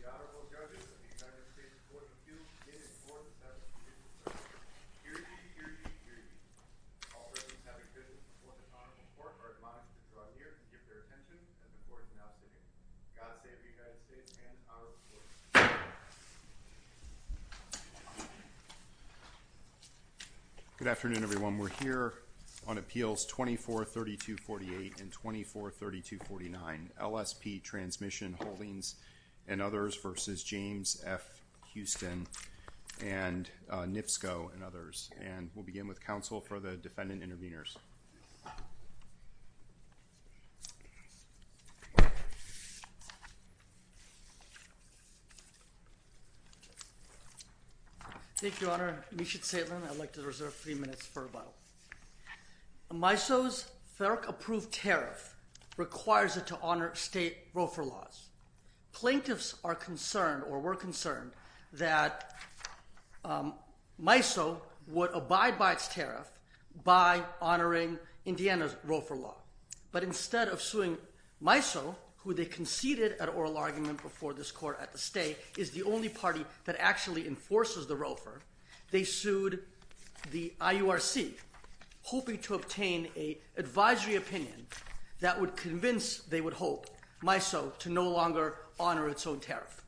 The Honorable Judges of the United States Court of Appeals in and for the Session of the Judicial Circuit. Hear ye, hear ye, hear ye. All Presidents having business before the Honorable Court are admonished to draw near and give their attention as the Court is now sitting. God save the United States and our courts. Good afternoon, everyone. We're here on Appeals 243248 and 243249, LSP Transmission Holdings II v. Northern Indiana Public Servic The Honorable Judges of the United States Court of Appeals in and for the defendant intervenors. Thank you, Your Honor. I'd like to reserve a few minutes for a moment. MISO's FERC-approved tariff requires it to honor state roofer laws. Plaintiffs are concerned or were concerned that MISO would abide by its own tariff by honoring Indiana's roofer law. But instead of suing MISO, who they conceded at oral argument before this court at the stay, is the only party that actually enforces the roofer, they sued the IURC, hoping to obtain an advisory opinion that would convince, they would hope, MISO to no longer honor its own tariff.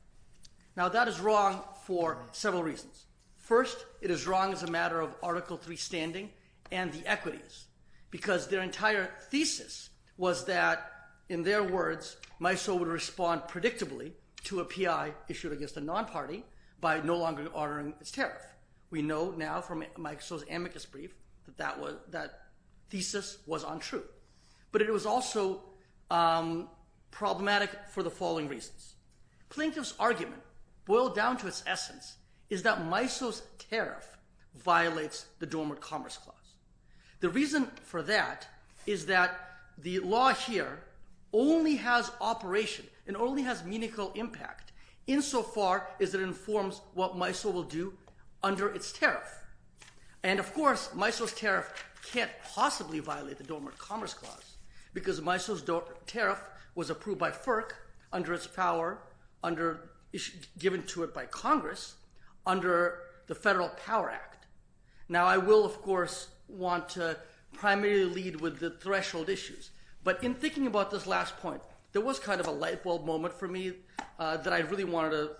Now that is wrong for several reasons. First, it is wrong as a matter of Article 3 standing and the equities, because their entire thesis was that, in their words, MISO would respond predictably to a PI issued against a non-party by no longer honoring its tariff. We know now from MISO's amicus brief that that thesis was untrue. But it was also problematic for the following reasons. Plaintiffs' argument, boiled down to its essence, is that MISO's tariff violates the Dormant Commerce Clause. The reason for that is that the law here only has operation and only has meaningful impact, insofar as it informs what MISO will do under its tariff. And of course, MISO's tariff can't possibly violate the Dormant Commerce Clause, because MISO's tariff was approved by FERC under its power, given to it by Congress, under the Federal Power Act. Now I will, of course, want to primarily lead with the threshold issues, but in thinking about this last point, there was kind of a light bulb moment for me that I really wanted to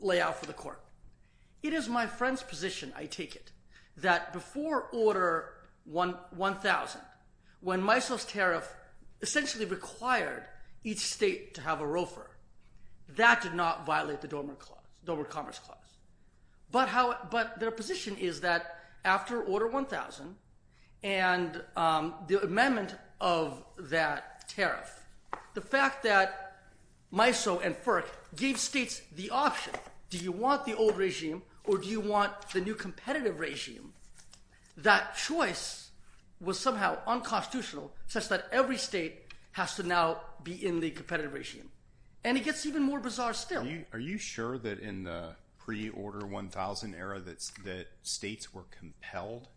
lay out for the Court. It is my friend's position, I take it, that before Order 1000, when MISO's tariff essentially required each state to have a roofer, that did not violate the Dormant Commerce Clause. But their position is that after Order 1000 and the amendment of that tariff, the fact that MISO and FERC gave states the option, do you want the old regime or do you want the new competitive regime, that choice was somehow unconstitutional, such that every state has to now be in the competitive regime. And it gets even more bizarre still. Are you sure that in the pre-Order 1000 era, that states were compelled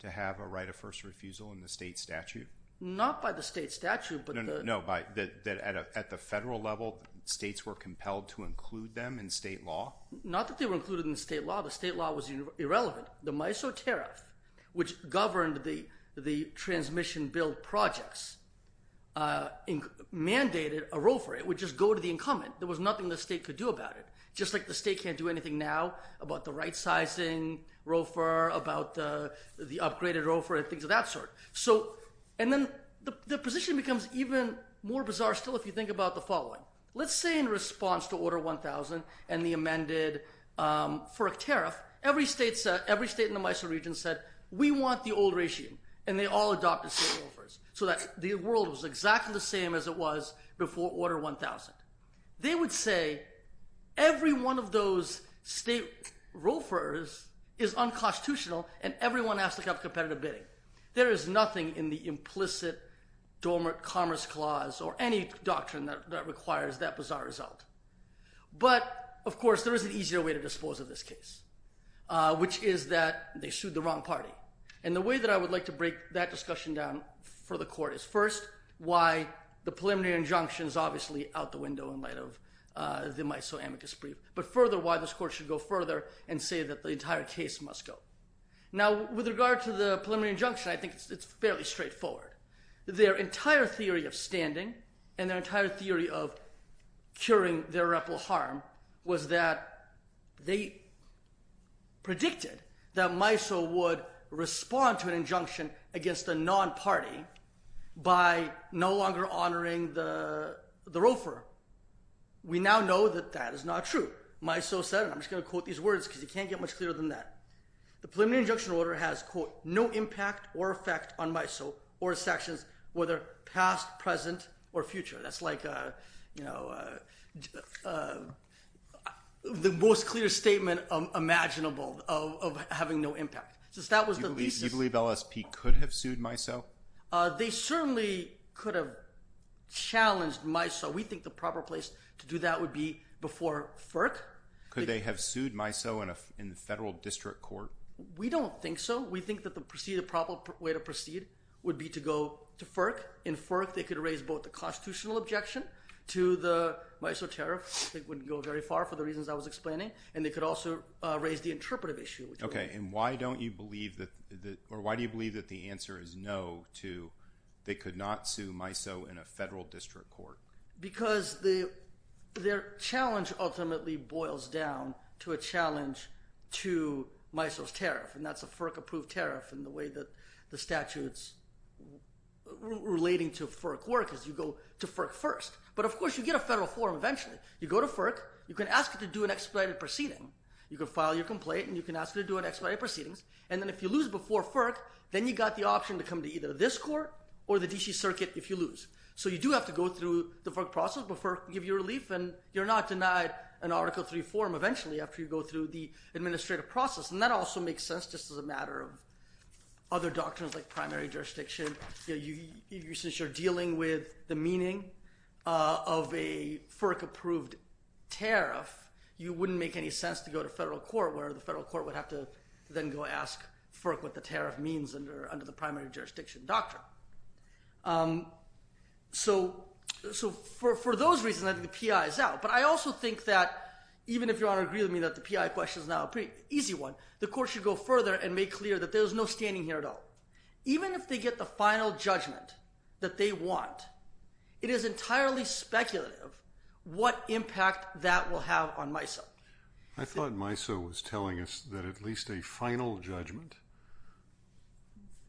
to have a right of first refusal in the state statute? Not by the state statute, but... No, no, no, that at the federal level, states were compelled to include them in state law? Not that they were included in state law. The state law was irrelevant. The MISO tariff, which governed the transmission bill projects, mandated a roofer. It would just go to the incumbent. There was nothing the state could do about it. Just like the state can't do anything now about the right-sizing roofer, about the upgraded roofer, and things of that sort. And then the position becomes even more bizarre still if you think about the following. Let's say in response to Order 1000 and the amended FERC tariff, every state in the MISO region said, we want the old regime, and they all adopted state roofers, so that the world was exactly the same as it was before Order 1000. They would say, every one of those state roofers is unconstitutional, and everyone has to have competitive bidding. There is nothing in the implicit dormant commerce clause or any doctrine that requires that bizarre result. But, of course, there is an easier way to dispose of this case, which is that they sued the wrong party. And the way that I would like to break that discussion down for the court is first, why the preliminary injunction is obviously out the window in light of the MISO amicus brief, but further, why this court should go further and say that the entire case must go. Now, with regard to the preliminary injunction, I think it's fairly straightforward. Their entire theory of standing and their entire theory of curing their ripple harm was that they predicted that MISO would respond to an injunction against a non-party by no longer honoring the roofer. We now know that that is not true. MISO said, and I'm just going to quote these words because you can't get much clearer than that, the preliminary injunction order has, quote, no impact or effect on MISO or its actions, whether past, present, or future. That's like the most clear statement imaginable of having no impact. Do you believe LSP could have sued MISO? They certainly could have challenged MISO. We think the proper place to do that would be before FERC. Could they have sued MISO in the federal district court? We don't think so. We think that the proper way to proceed would be to go to FERC. In FERC, they could raise both the constitutional objection to the MISO tariff, which I think wouldn't go very far for the reasons I was explaining, and they could also raise the interpretive issue. Why do you believe that the answer is no to they could not sue MISO in a federal district court? Because their challenge ultimately boils down to a challenge to MISO's tariff, and that's a FERC-approved tariff, and the way that the statutes relating to FERC work is you go to FERC first. But, of course, you get a federal forum eventually. You go to FERC. You can ask it to do an expedited proceeding. You can file your complaint, and you can ask it to do an expedited proceedings, and then if you lose before FERC, then you've got the option to come to either this court or the D.C. Circuit if you lose. So you do have to go through the FERC process before FERC can give you relief, and you're not denied an Article III forum eventually after you go through the administrative process, and that also makes sense just as a matter of other doctrines like primary jurisdiction. Since you're dealing with the meaning of a FERC-approved tariff, you wouldn't make any sense to go to federal court where the federal court would have to then go ask FERC what the tariff means under the primary jurisdiction doctrine. So for those reasons, I think the P.I. is out, but I also think that even if Your Honor agrees with me that the P.I. question is now a pretty easy one, the court should go further and make clear that there's no standing here at all. Even if they get the final judgment that they want, it is entirely speculative what impact that will have on MISO. I thought MISO was telling us that at least a final judgment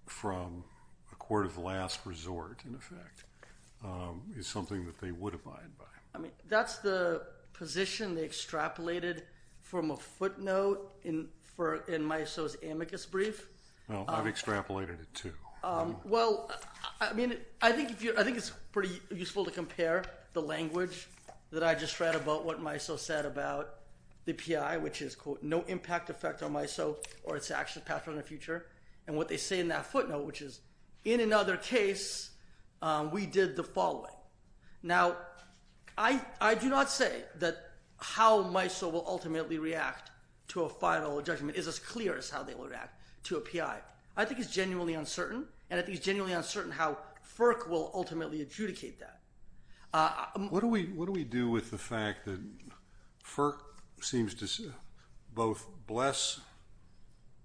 from a court of last resort, in effect, is something that they would abide by. I mean, that's the position they extrapolated from a footnote in MISO's amicus brief. Well, I've extrapolated it too. Well, I mean, I think it's pretty useful to compare the language that I just read about what MISO said about the P.I., which is, quote, no impact effect on MISO or its action pattern in the future. And what they say in that footnote, which is, in another case, we did the following. Now, I do not say that how MISO will ultimately react to a final judgment is as clear as how they will react to a P.I. I think it's genuinely uncertain, and I think it's genuinely uncertain how FERC will ultimately adjudicate that. What do we do with the fact that FERC seems to both bless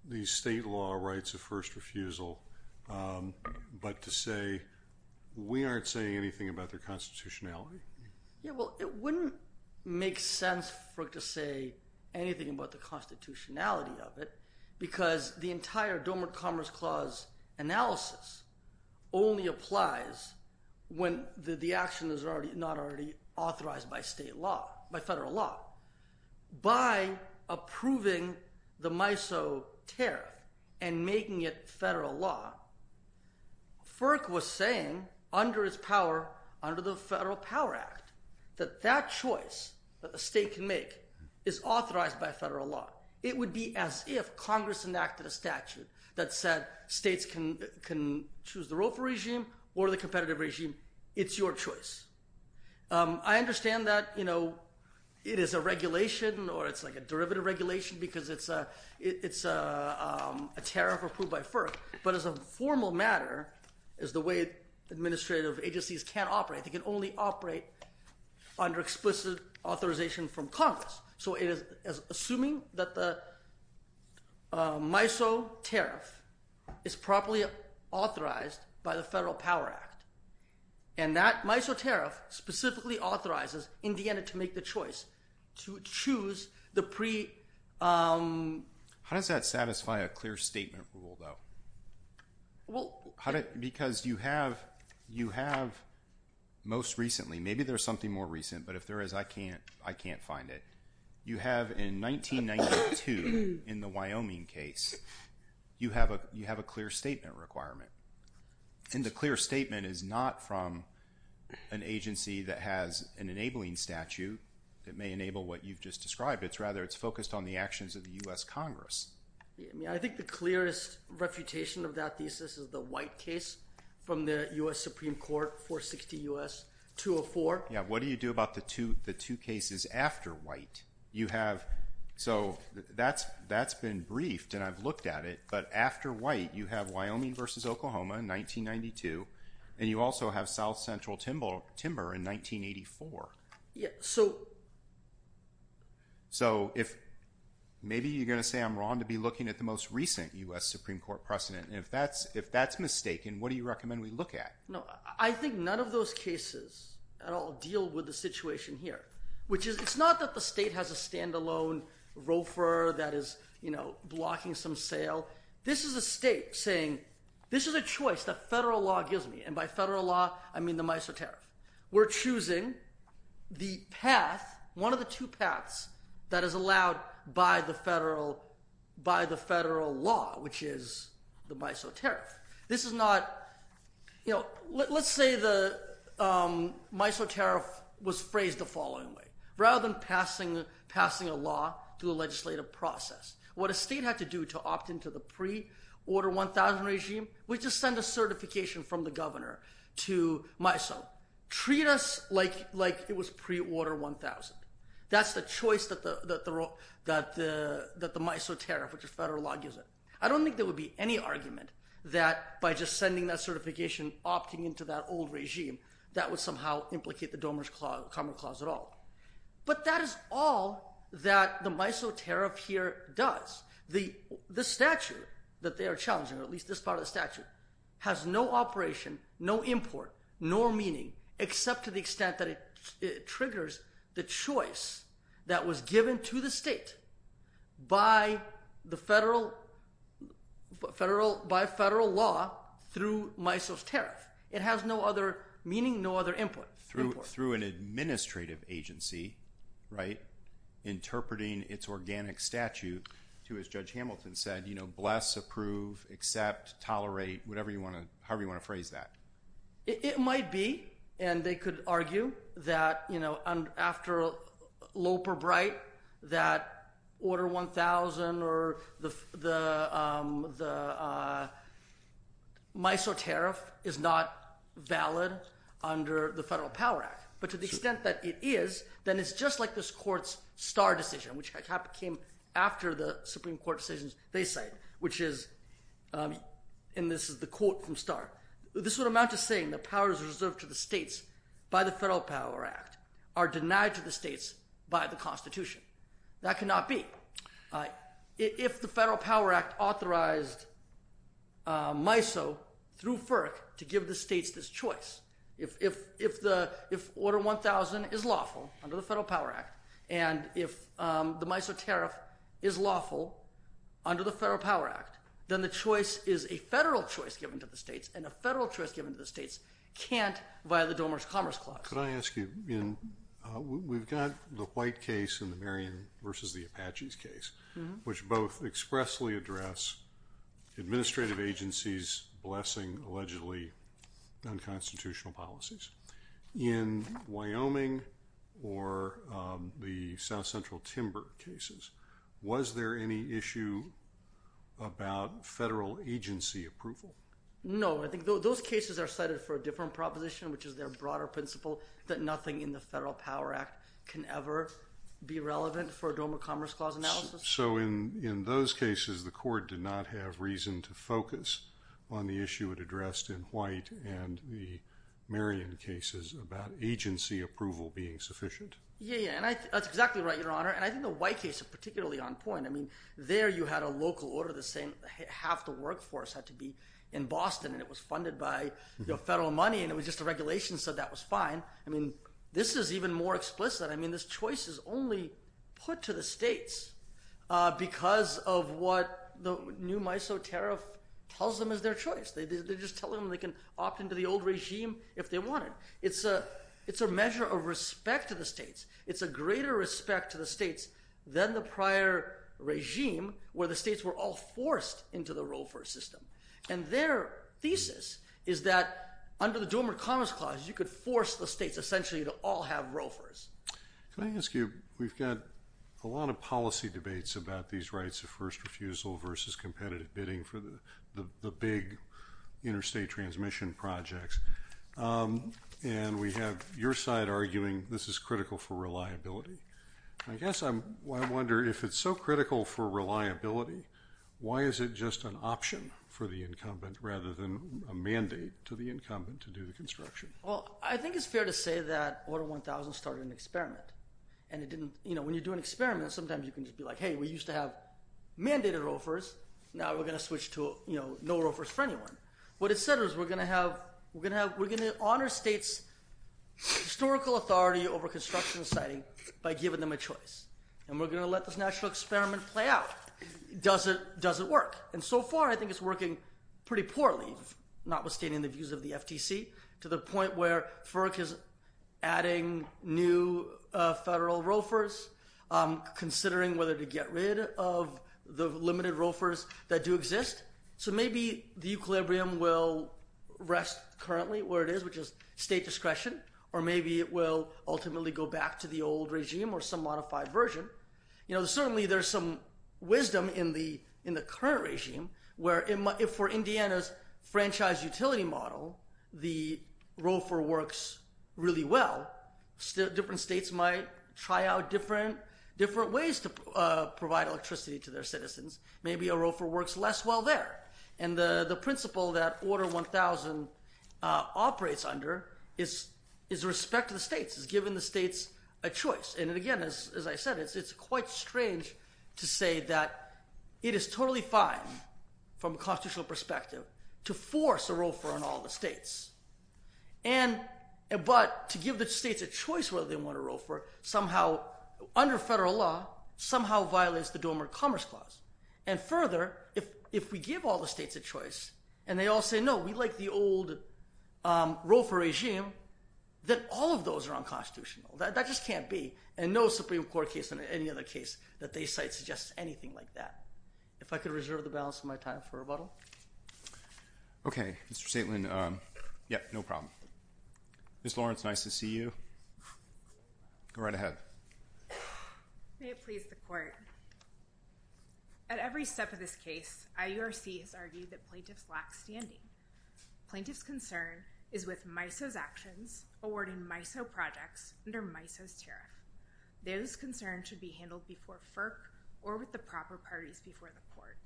these state law rights of first refusal but to say we aren't saying anything about their constitutionality? Yeah, well, it wouldn't make sense for it to say anything about the constitutionality of it because the entire Dormant Commerce Clause analysis only applies when the action is not already authorized by state law, by federal law. By approving the MISO tariff and making it federal law, FERC was saying, under its power, under the Federal Power Act, that that choice that the state can make is authorized by federal law. It would be as if Congress enacted a statute that said states can choose the ROFA regime or the competitive regime. It's your choice. I understand that it is a regulation or it's like a derivative regulation because it's a tariff approved by FERC, but as a formal matter, as the way administrative agencies can operate, they can only operate under explicit authorization from Congress. So it is assuming that the MISO tariff is properly authorized by the Federal Power Act, and that MISO tariff specifically authorizes Indiana to make the choice to choose the pre… How does that satisfy a clear statement rule, though? Because you have, most recently, maybe there's something more recent, but if there is, I can't find it. You have, in 1992, in the Wyoming case, you have a clear statement requirement, and the clear statement is not from an agency that has an enabling statute that may enable what you've just described. Rather, it's focused on the actions of the U.S. Congress. I think the clearest refutation of that thesis is the White case from the U.S. Supreme Court, 460 U.S., 204. Yeah, what do you do about the two cases after White? So that's been briefed, and I've looked at it, but after White, you have Wyoming v. Oklahoma in 1992, and you also have South Central Timber in 1984. Yeah, so… So, maybe you're going to say I'm wrong to be looking at the most recent U.S. Supreme Court precedent, and if that's mistaken, what do you recommend we look at? No, I think none of those cases at all deal with the situation here, which is, it's not that the state has a standalone ROFR that is blocking some sale. This is a state saying, this is a choice that federal law gives me, and by federal law, I mean the MISO tariff. We're choosing the path, one of the two paths that is allowed by the federal law, which is the MISO tariff. This is not, you know, let's say the MISO tariff was phrased the following way. Rather than passing a law through a legislative process, what a state had to do to opt into the pre-Order 1000 regime was just send a certification from the governor to MISO. Treat us like it was pre-Order 1000. That's the choice that the MISO tariff, which is federal law, gives it. I don't think there would be any argument that by just sending that certification, opting into that old regime, that would somehow implicate the DOMER clause at all. But that is all that the MISO tariff here does. The statute that they are challenging, or at least this part of the statute, has no operation, no import, nor meaning, except to the extent that it triggers the choice that was given to the state by federal law through MISO's tariff. It has no other meaning, no other import. Through an administrative agency, right, interpreting its organic statute to, as Judge Hamilton said, you know, bless, approve, accept, tolerate, whatever you want to, however you want to phrase that. It might be, and they could argue that, you know, after Loper-Bright, that Order 1000 or the MISO tariff is not valid under the Federal Power Act. But to the extent that it is, then it's just like this court's Starr decision, which came after the Supreme Court decisions they cite, which is – and this is the quote from Starr. This would amount to saying that powers reserved to the states by the Federal Power Act are denied to the states by the Constitution. That cannot be. If the Federal Power Act authorized MISO through FERC to give the states this choice, if Order 1000 is lawful under the Federal Power Act, and if the MISO tariff is lawful under the Federal Power Act, then the choice is a federal choice given to the states, and a federal choice given to the states can't violate the Domers Commerce Clause. We've got the White case and the Marion versus the Apaches case, which both expressly address administrative agencies blessing allegedly unconstitutional policies. In Wyoming or the South Central Timber cases, was there any issue about federal agency approval? No. I think those cases are cited for a different proposition, which is their broader principle that nothing in the Federal Power Act can ever be relevant for a Domer Commerce Clause analysis. So in those cases, the court did not have reason to focus on the issue it addressed in White and the Marion cases about agency approval being sufficient. That's exactly right, Your Honor, and I think the White case is particularly on point. There you had a local order saying half the workforce had to be in Boston, and it was funded by federal money, and it was just a regulation, so that was fine. This is even more explicit. This choice is only put to the states because of what the new MISO tariff tells them is their choice. They're just telling them they can opt into the old regime if they wanted. It's a measure of respect to the states. It's a greater respect to the states than the prior regime where the states were all forced into the ROFR system, and their thesis is that under the Domer Commerce Clause, you could force the states essentially to all have ROFRs. Can I ask you, we've got a lot of policy debates about these rights of first refusal versus competitive bidding for the big interstate transmission projects. We have your side arguing this is critical for reliability. I guess I wonder if it's so critical for reliability, why is it just an option for the incumbent rather than a mandate to the incumbent to do the construction? Well, I think it's fair to say that Order 1000 started an experiment. When you do an experiment, sometimes you can just be like, hey, we used to have mandated ROFRs. Now we're going to switch to no ROFRs for anyone. What it said was we're going to honor states' historical authority over construction and siting by giving them a choice, and we're going to let this natural experiment play out. Does it work? So far, I think it's working pretty poorly, notwithstanding the views of the FTC, to the point where FERC is adding new federal ROFRs, considering whether to get rid of the limited ROFRs that do exist. So maybe the equilibrium will rest currently where it is, which is state discretion, or maybe it will ultimately go back to the old regime or some modified version. Certainly, there's some wisdom in the current regime, where for Indiana's franchise utility model, the ROFR works really well. Different states might try out different ways to provide electricity to their citizens. Maybe a ROFR works less well there. And the principle that Order 1000 operates under is respect to the states. It's giving the states a choice. And again, as I said, it's quite strange to say that it is totally fine from a constitutional perspective to force a ROFR on all the states. But to give the states a choice whether they want a ROFR, somehow, under federal law, somehow violates the Dormant Commerce Clause. And further, if we give all the states a choice, and they all say, no, we like the old ROFR regime, then all of those are unconstitutional. That just can't be. And no Supreme Court case or any other case that they cite suggests anything like that. If I could reserve the balance of my time for rebuttal. OK. Mr. Stateland. Yeah, no problem. Ms. Lawrence, nice to see you. Go right ahead. May it please the Court. At every step of this case, IURC has argued that plaintiffs lack standing. Plaintiff's concern is with MISO's actions awarding MISO projects under MISO's tariff. Those concerns should be handled before FERC or with the proper parties before the Court.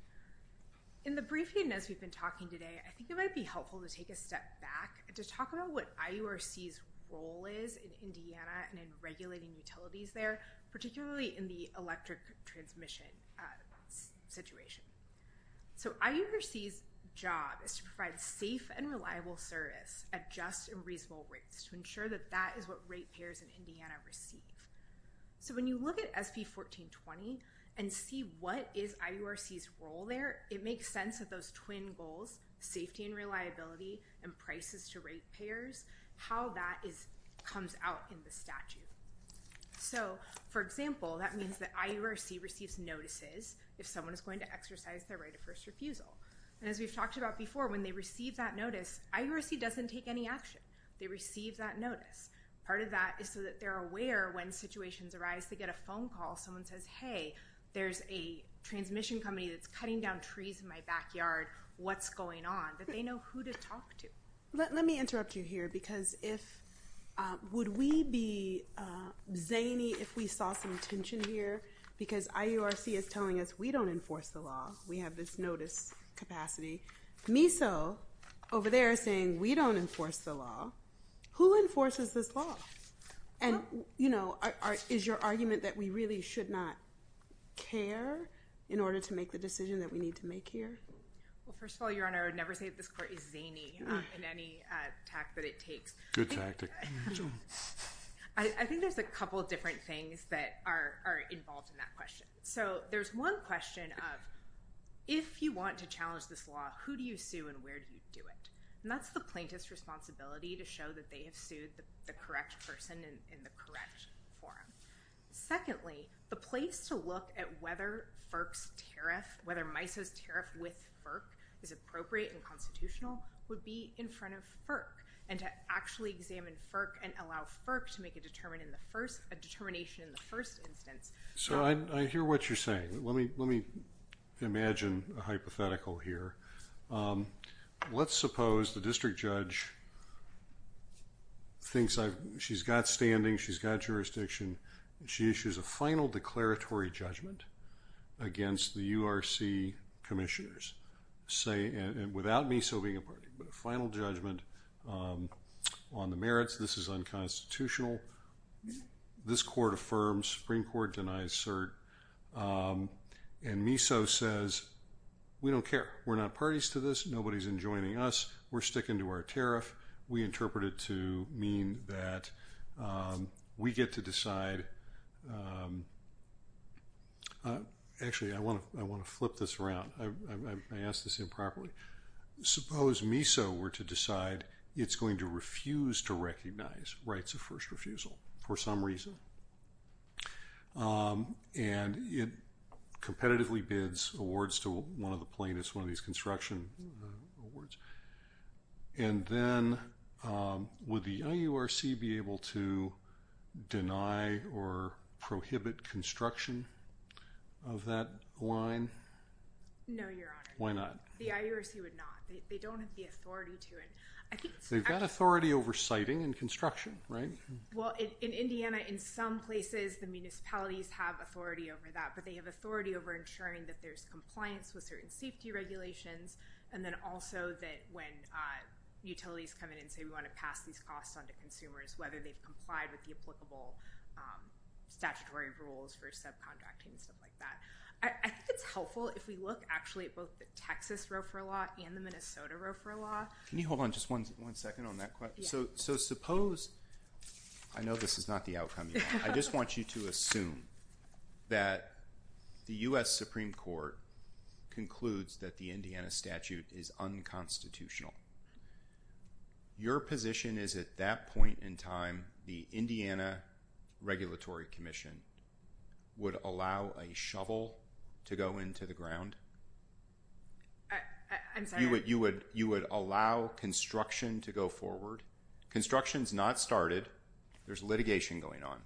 In the briefing as we've been talking today, I think it might be helpful to take a step back to talk about what IURC's role is in Indiana and in regulating utilities there, particularly in the electric transmission situation. So IURC's job is to provide safe and reliable service at just and reasonable rates to ensure that that is what rate payers in Indiana receive. So when you look at SB 1420 and see what is IURC's role there, it makes sense that those twin goals, safety and reliability, and prices to rate payers, how that comes out in the statute. So, for example, that means that IURC receives notices if someone is going to exercise their right of first refusal. And as we've talked about before, when they receive that notice, IURC doesn't take any action. They receive that notice. Part of that is so that they're aware when situations arise. They get a phone call. Someone says, hey, there's a transmission company that's cutting down trees in my backyard. What's going on? That they know who to talk to. Let me interrupt you here because if, would we be zany if we saw some tension here? Because IURC is telling us we don't enforce the law. We have this notice capacity. MISO over there is saying we don't enforce the law. Who enforces this law? And, you know, is your argument that we really should not care in order to make the decision that we need to make here? Well, first of all, Your Honor, I would never say that this court is zany in any tact that it takes. Good tactic. I think there's a couple different things that are involved in that question. So, there's one question of if you want to challenge this law, who do you sue and where do you do it? And that's the plaintiff's responsibility to show that they have sued the correct person in the correct forum. Secondly, the place to look at whether FERC's tariff, whether MISO's tariff with FERC is appropriate and constitutional would be in front of FERC. And to actually examine FERC and allow FERC to make a determination in the first instance. So, I hear what you're saying. Let me imagine a hypothetical here. Let's suppose the district judge thinks she's got standing, she's got jurisdiction. She issues a final declaratory judgment against the URC commissioners without MISO being a party. But a final judgment on the merits. This is unconstitutional. This court affirms. Supreme Court denies cert. And MISO says, we don't care. We're not parties to this. Nobody's enjoining us. We're sticking to our tariff. We interpret it to mean that we get to decide. Actually, I want to flip this around. I asked this improperly. Suppose MISO were to decide it's going to refuse to recognize rights of first refusal for some reason. And it competitively bids awards to one of the plaintiffs, one of these construction awards. And then, would the IURC be able to deny or prohibit construction of that line? No, Your Honor. Why not? The IURC would not. They don't have the authority to. They've got authority over siting and construction, right? Well, in Indiana, in some places, the municipalities have authority over that. But they have authority over ensuring that there's compliance with certain safety regulations. And then also that when utilities come in and say, we want to pass these costs on to consumers, whether they've complied with the applicable statutory rules for subcontracting and stuff like that. I think it's helpful if we look actually at both the Texas ROFR law and the Minnesota ROFR law. Can you hold on just one second on that question? So suppose – I know this is not the outcome you want. I just want you to assume that the U.S. Supreme Court concludes that the Indiana statute is unconstitutional. Your position is at that point in time, the Indiana Regulatory Commission would allow a shovel to go into the ground? I'm sorry? You would allow construction to go forward? Construction's not started. There's litigation going on.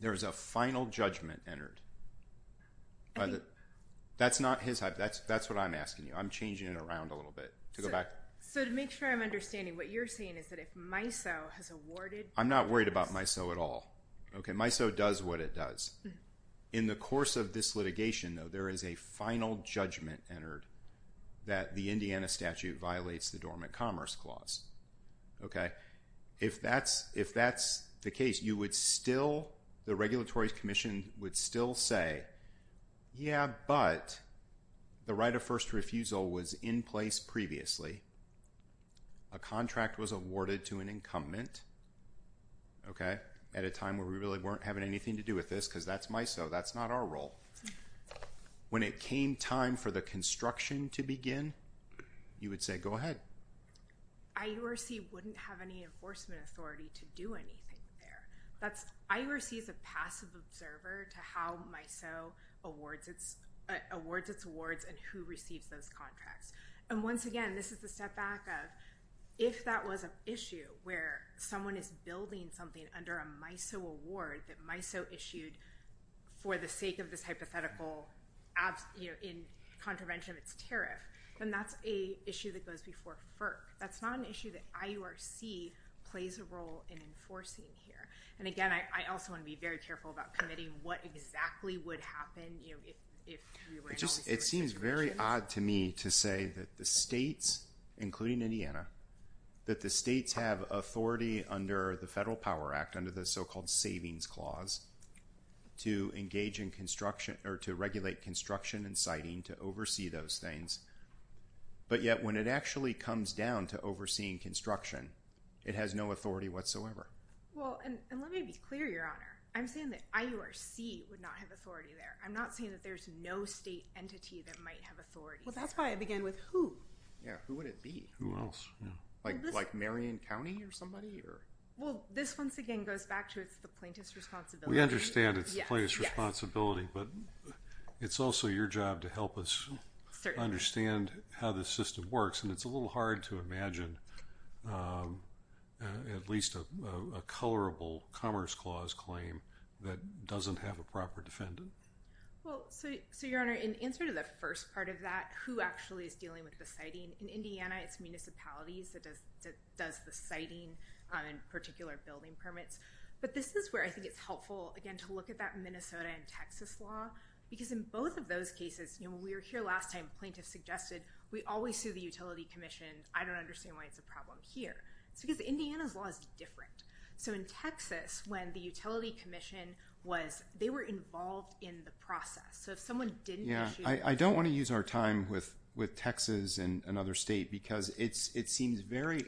There is a final judgment entered. That's not his – that's what I'm asking you. I'm changing it around a little bit to go back. So to make sure I'm understanding, what you're saying is that if MISO has awarded – I'm not worried about MISO at all. Okay, MISO does what it does. In the course of this litigation, though, there is a final judgment entered that the Indiana statute violates the Dormant Commerce Clause. If that's the case, you would still – the Regulatory Commission would still say, yeah, but the right of first refusal was in place previously. A contract was awarded to an incumbent at a time where we really weren't having anything to do with this because that's MISO, that's not our role. When it came time for the construction to begin, you would say, go ahead. IURC wouldn't have any enforcement authority to do anything there. That's – IURC is a passive observer to how MISO awards its awards and who receives those contracts. And once again, this is the step back of if that was an issue where someone is building something under a MISO award that MISO issued for the sake of this hypothetical in contravention of its tariff, then that's an issue that goes before FERC. That's not an issue that IURC plays a role in enforcing here. And again, I also want to be very careful about committing what exactly would happen if we were in all these situations. It seems very odd to me to say that the states, including Indiana, that the states have authority under the Federal Power Act, under the so-called Savings Clause, to engage in construction or to regulate construction and siting to oversee those things. But yet when it actually comes down to overseeing construction, it has no authority whatsoever. Well, and let me be clear, Your Honor. I'm saying that IURC would not have authority there. I'm not saying that there's no state entity that might have authority. Well, that's why I began with who. Yeah, who would it be? Who else? Like Marion County or somebody? Well, this once again goes back to the plaintiff's responsibility. We understand it's the plaintiff's responsibility, but it's also your job to help us understand how the system works. And it's a little hard to imagine at least a colorable Commerce Clause claim that doesn't have a proper defendant. Well, so, Your Honor, in answer to the first part of that, who actually is dealing with the siting? In Indiana, it's municipalities that does the siting and particular building permits. But this is where I think it's helpful, again, to look at that Minnesota and Texas law. Because in both of those cases, you know, when we were here last time, plaintiffs suggested we always sue the Utility Commission. I don't understand why it's a problem here. It's because Indiana's law is different. So in Texas, when the Utility Commission was – they were involved in the process. Yeah, I don't want to use our time with Texas and another state because it seems very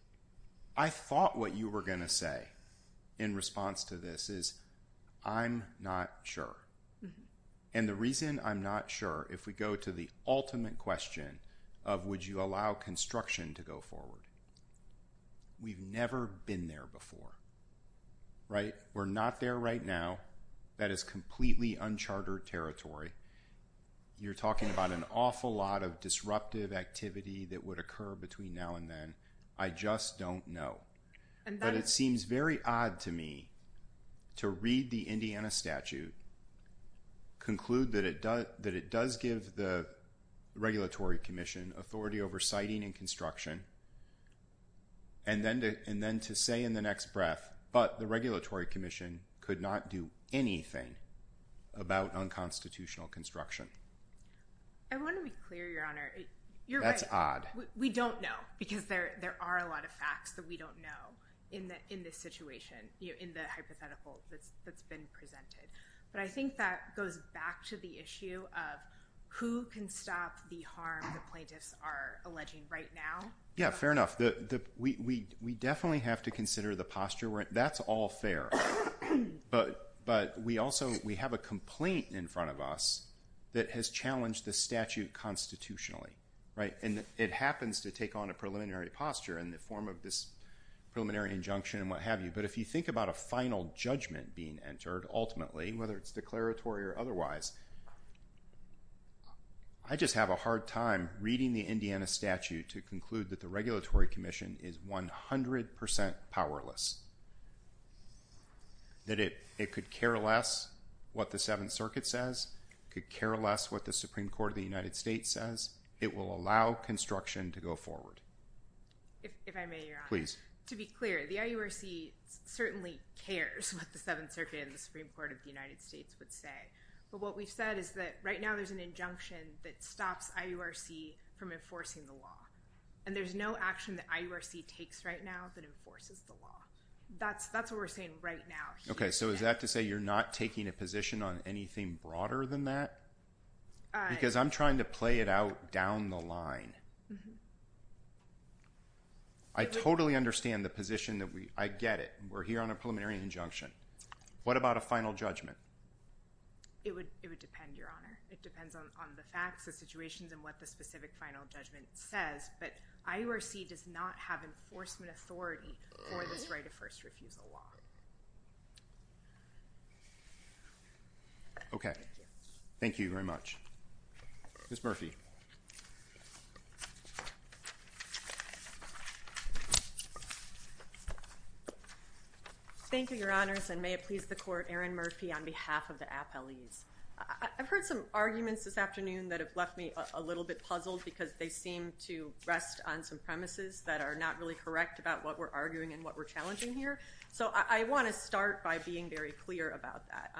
– I thought what you were going to say in response to this is I'm not sure. And the reason I'm not sure, if we go to the ultimate question of would you allow construction to go forward, we've never been there before, right? If we're not there right now, that is completely unchartered territory. You're talking about an awful lot of disruptive activity that would occur between now and then. I just don't know. But it seems very odd to me to read the Indiana statute, conclude that it does give the Regulatory Commission authority over siting and construction, and then to say in the next breath, but the Regulatory Commission could not do anything about unconstitutional construction. I want to be clear, Your Honor. That's odd. We don't know because there are a lot of facts that we don't know in this situation, in the hypothetical that's been presented. But I think that goes back to the issue of who can stop the harm the plaintiffs are alleging right now. Yeah, fair enough. We definitely have to consider the posture. That's all fair. But we also – we have a complaint in front of us that has challenged the statute constitutionally, right? And it happens to take on a preliminary posture in the form of this preliminary injunction and what have you. But if you think about a final judgment being entered ultimately, whether it's declaratory or otherwise, I just have a hard time reading the Indiana statute to conclude that the Regulatory Commission is 100% powerless, that it could care less what the Seventh Circuit says, could care less what the Supreme Court of the United States says. It will allow construction to go forward. If I may, Your Honor. Please. To be clear, the IURC certainly cares what the Seventh Circuit and the Supreme Court of the United States would say. But what we've said is that right now there's an injunction that stops IURC from enforcing the law. And there's no action that IURC takes right now that enforces the law. That's what we're saying right now. Okay. So is that to say you're not taking a position on anything broader than that? Because I'm trying to play it out down the line. I totally understand the position. I get it. We're here on a preliminary injunction. What about a final judgment? It would depend, Your Honor. It depends on the facts, the situations, and what the specific final judgment says. But IURC does not have enforcement authority for this right of first refusal law. Okay. Thank you very much. Ms. Murphy. Thank you, Your Honors, and may it please the Court, Aaron Murphy on behalf of the appellees. I've heard some arguments this afternoon that have left me a little bit puzzled because they seem to rest on some premises that are not really correct about what we're arguing and what we're challenging here. So I want to start by being very clear about that.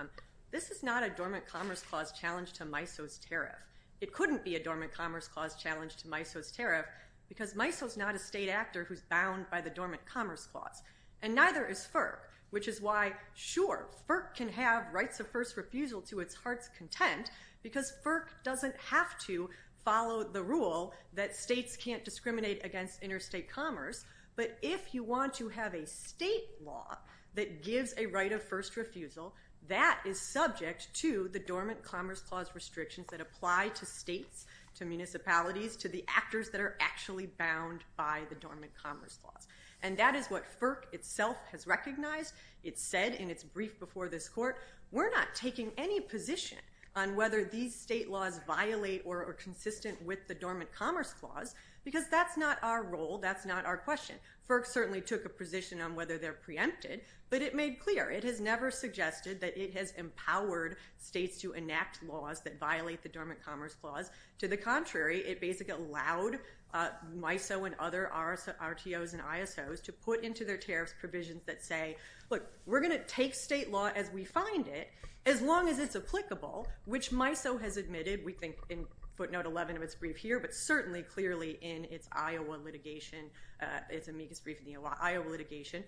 This is not a dormant commerce clause challenge to MISO's tariff. It couldn't be a dormant commerce clause challenge to MISO's tariff because MISO's not a state actor who's bound by the dormant commerce clause. And neither is FERC, which is why, sure, FERC can have rights of first refusal to its heart's content because FERC doesn't have to follow the rule that states can't discriminate against interstate commerce. But if you want to have a state law that gives a right of first refusal, that is subject to the dormant commerce clause restrictions that apply to states, to municipalities, to the actors that are actually bound by the dormant commerce clause. And that is what FERC itself has recognized. It said in its brief before this Court, we're not taking any position on whether these state laws violate or are consistent with the dormant commerce clause because that's not our role, that's not our question. FERC certainly took a position on whether they're preempted, but it made clear. It has never suggested that it has empowered states to enact laws that violate the dormant commerce clause. To the contrary, it basically allowed MISO and other RTOs and ISOs to put into their tariff provisions that say, look, we're going to take state law as we find it as long as it's applicable, which MISO has admitted, we think in footnote 11 of its brief here, but certainly clearly in its Iowa litigation, its amicus brief in the Iowa litigation,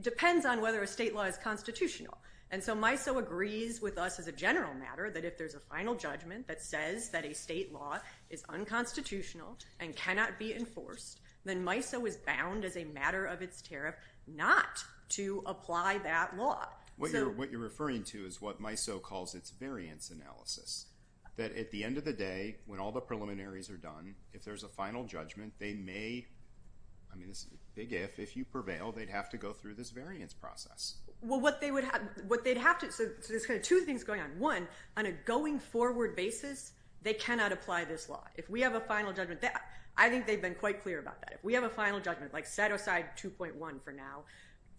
depends on whether a state law is constitutional. And so MISO agrees with us as a general matter that if there's a final judgment that says that a state law is unconstitutional and cannot be enforced, then MISO is bound as a matter of its tariff not to apply that law. What you're referring to is what MISO calls its variance analysis, that at the end of the day when all the preliminaries are done, if there's a final judgment, they may, I mean this is a big if, if you prevail, they'd have to go through this variance process. Well, what they would have, what they'd have to, so there's kind of two things going on. One, on a going forward basis, they cannot apply this law. If we have a final judgment, I think they've been quite clear about that. If we have a final judgment, like set aside 2.1 for now,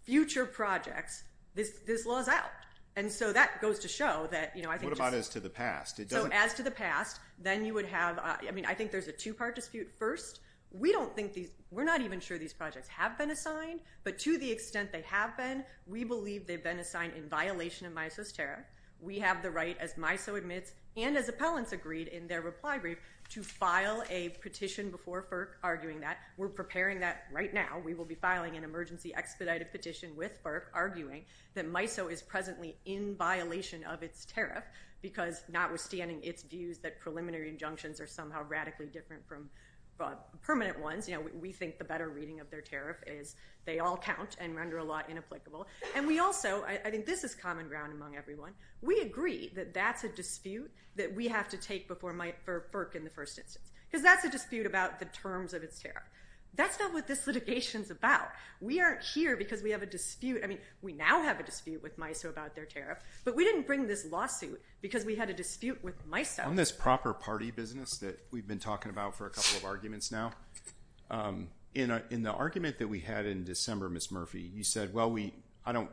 future projects, this law is out. And so that goes to show that, you know, I think. What about as to the past? So as to the past, then you would have, I mean, I think there's a two-part dispute. First, we don't think these, we're not even sure these projects have been assigned, but to the extent they have been, we believe they've been assigned in violation of MISO's tariff. We have the right, as MISO admits and as appellants agreed in their reply brief, to file a petition before FERC arguing that. We're preparing that right now. We will be filing an emergency expedited petition with FERC arguing that MISO is presently in violation of its tariff because notwithstanding its views that preliminary injunctions are somehow radically different from permanent ones, you know, we think the better reading of their tariff is they all count and render a law inapplicable. And we also, I think this is common ground among everyone, we agree that that's a dispute that we have to take before FERC in the first instance because that's a dispute about the terms of its tariff. That's not what this litigation's about. We aren't here because we have a dispute, I mean, we now have a dispute with MISO about their tariff, but we didn't bring this lawsuit because we had a dispute with MISO. On this proper party business that we've been talking about for a couple of arguments now, in the argument that we had in December, Ms. Murphy, you said, well, we, I don't,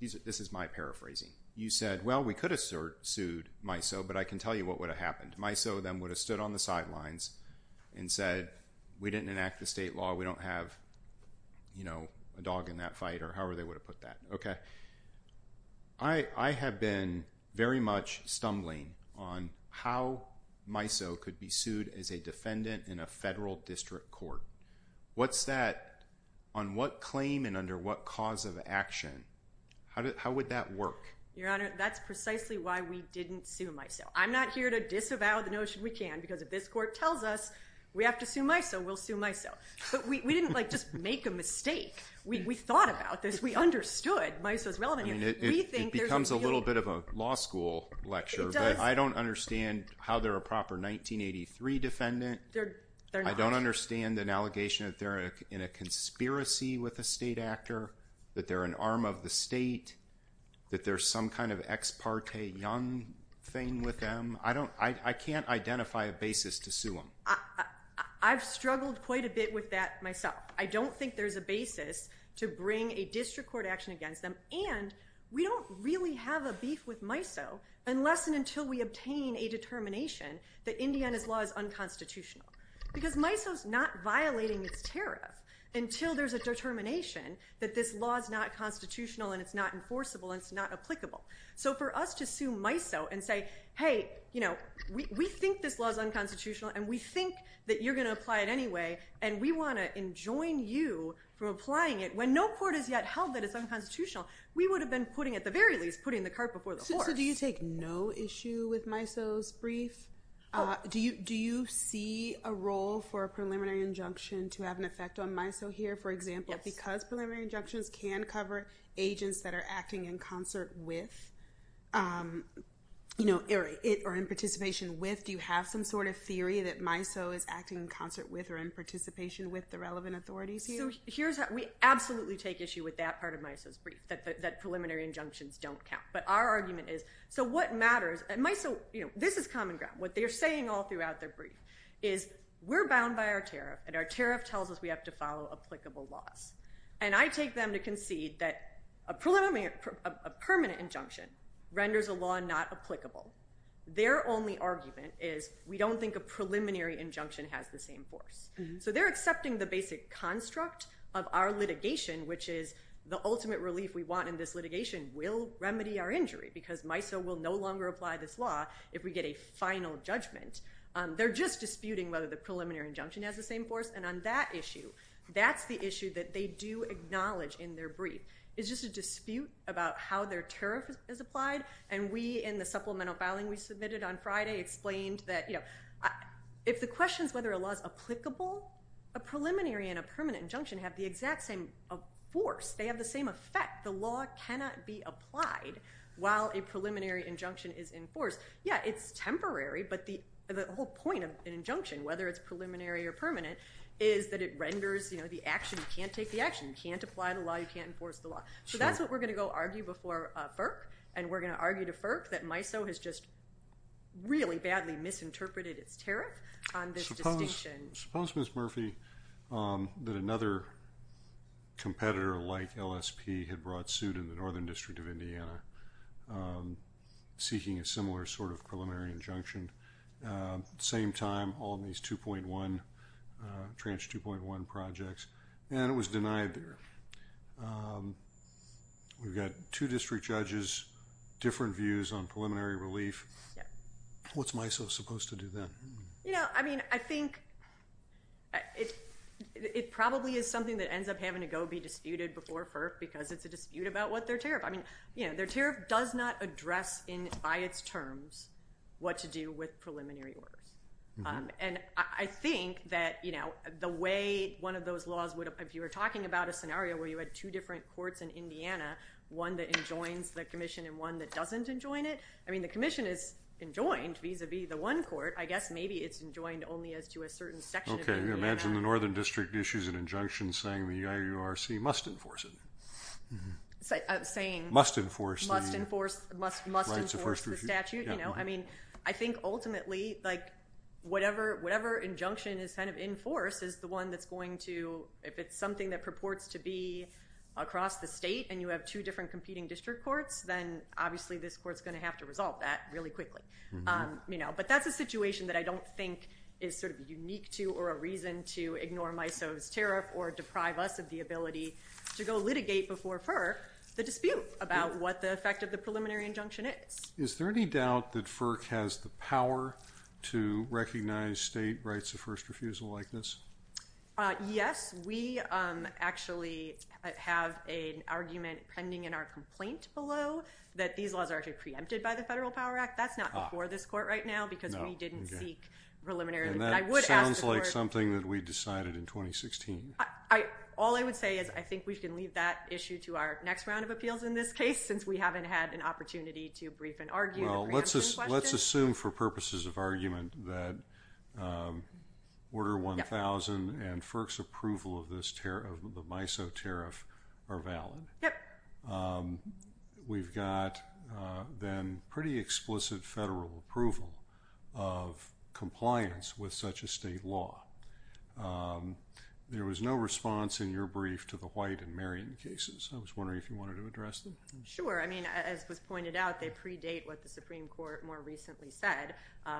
this is my paraphrasing. You said, well, we could have sued MISO, but I can tell you what would have happened. MISO then would have stood on the sidelines and said we didn't enact the state law, we don't have, you know, a dog in that fight or however they would have put that. Okay. I have been very much stumbling on how MISO could be sued as a defendant in a federal district court. What's that, on what claim and under what cause of action, how would that work? Your Honor, that's precisely why we didn't sue MISO. I'm not here to disavow the notion we can because if this court tells us we have to sue MISO, we'll sue MISO. But we didn't like just make a mistake. We thought about this. We understood MISO's relevance. It becomes a little bit of a law school lecture, but I don't understand how they're a proper 1983 defendant. I don't understand an allegation that they're in a conspiracy with a state actor, that they're an arm of the state, that there's some kind of ex parte young thing with them. I don't, I can't identify a basis to sue them. I've struggled quite a bit with that myself. I don't think there's a basis to bring a district court action against them. And we don't really have a beef with MISO unless and until we obtain a determination that Indiana's law is unconstitutional. Because MISO's not violating its tariff until there's a determination that this law is not constitutional and it's not enforceable and it's not applicable. So for us to sue MISO and say, hey, you know, we think this law is unconstitutional and we think that you're going to apply it anyway, and we want to enjoin you from applying it when no court has yet held that it's unconstitutional, we would have been putting, at the very least, putting the cart before the horse. So do you take no issue with MISO's brief? Do you see a role for a preliminary injunction to have an effect on MISO here, for example, because preliminary injunctions can cover agents that are acting in concert with or in participation with? Do you have some sort of theory that MISO is acting in concert with or in participation with the relevant authorities here? So we absolutely take issue with that part of MISO's brief, that preliminary injunctions don't count. But our argument is, so what matters? And MISO, you know, this is common ground. What they're saying all throughout their brief is we're bound by our tariff, and our tariff tells us we have to follow applicable laws. And I take them to concede that a permanent injunction renders a law not applicable. Their only argument is we don't think a preliminary injunction has the same force. So they're accepting the basic construct of our litigation, which is the ultimate relief we want in this litigation will remedy our injury, because MISO will no longer apply this law if we get a final judgment. They're just disputing whether the preliminary injunction has the same force. And on that issue, that's the issue that they do acknowledge in their brief. It's just a dispute about how their tariff is applied. And we, in the supplemental filing we submitted on Friday, explained that, you know, if the question is whether a law is applicable, a preliminary and a permanent injunction have the exact same force. They have the same effect. The law cannot be applied while a preliminary injunction is in force. Yeah, it's temporary, but the whole point of an injunction, whether it's preliminary or permanent, is that it renders, you know, the action. You can't take the action. You can't apply the law. You can't enforce the law. So that's what we're going to go argue before FERC, and we're going to argue to FERC that MISO has just really badly misinterpreted its tariff on this distinction. Suppose, Ms. Murphy, that another competitor like LSP had brought suit in the Northern District of Indiana seeking a similar sort of preliminary injunction. At the same time, all of these 2.1, Tranche 2.1 projects, and it was denied there. We've got two district judges, different views on preliminary relief. Yeah. What's MISO supposed to do then? You know, I mean, I think it probably is something that ends up having to go be disputed before FERC because it's a dispute about what their tariff. I mean, you know, their tariff does not address by its terms what to do with preliminary orders. And I think that, you know, the way one of those laws would have, if you were talking about a scenario where you had two different courts in Indiana, one that enjoins the commission and one that doesn't enjoin it. I mean, the commission is enjoined vis-a-vis the one court. I guess maybe it's enjoined only as to a certain section of Indiana. Okay. Imagine the Northern District issues an injunction saying the IURC must enforce it. Saying... Must enforce the... Must enforce the statute, you know? I mean, I think ultimately, like, whatever injunction is kind of enforced is the one that's going to, if it's something that purports to be across the state and you have two different competing district courts, then obviously this court's going to have to resolve that really quickly, you know? But that's a situation that I don't think is sort of unique to or a reason to ignore MISO's tariff or deprive us of the ability to go litigate before FERC the dispute about what the effect of the preliminary injunction is. Is there any doubt that FERC has the power to recognize state rights of first refusal like this? Yes. We actually have an argument pending in our complaint below that these laws are actually preempted by the Federal Power Act. That's not before this court right now because we didn't seek preliminary... And that sounds like something that we decided in 2016. All I would say is I think we can leave that issue to our next round of appeals in this case since we haven't had an opportunity to brief and argue the preemption question. Let's assume for purposes of argument that Order 1000 and FERC's approval of the MISO tariff are valid. Yep. We've got then pretty explicit federal approval of compliance with such a state law. There was no response in your brief to the White and Marion cases. I was wondering if you wanted to address them. Sure. I mean, as was pointed out, they predate what the Supreme Court more recently said,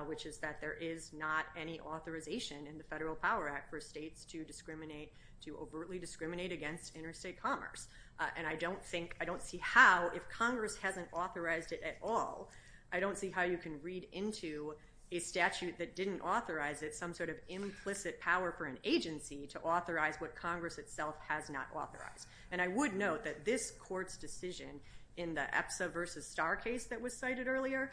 which is that there is not any authorization in the Federal Power Act for states to overtly discriminate against interstate commerce. And I don't see how, if Congress hasn't authorized it at all, I don't see how you can read into a statute that didn't authorize it some sort of implicit power for an agency to authorize what Congress itself has not authorized. And I would note that this court's decision in the EPSA versus Starr case that was cited earlier,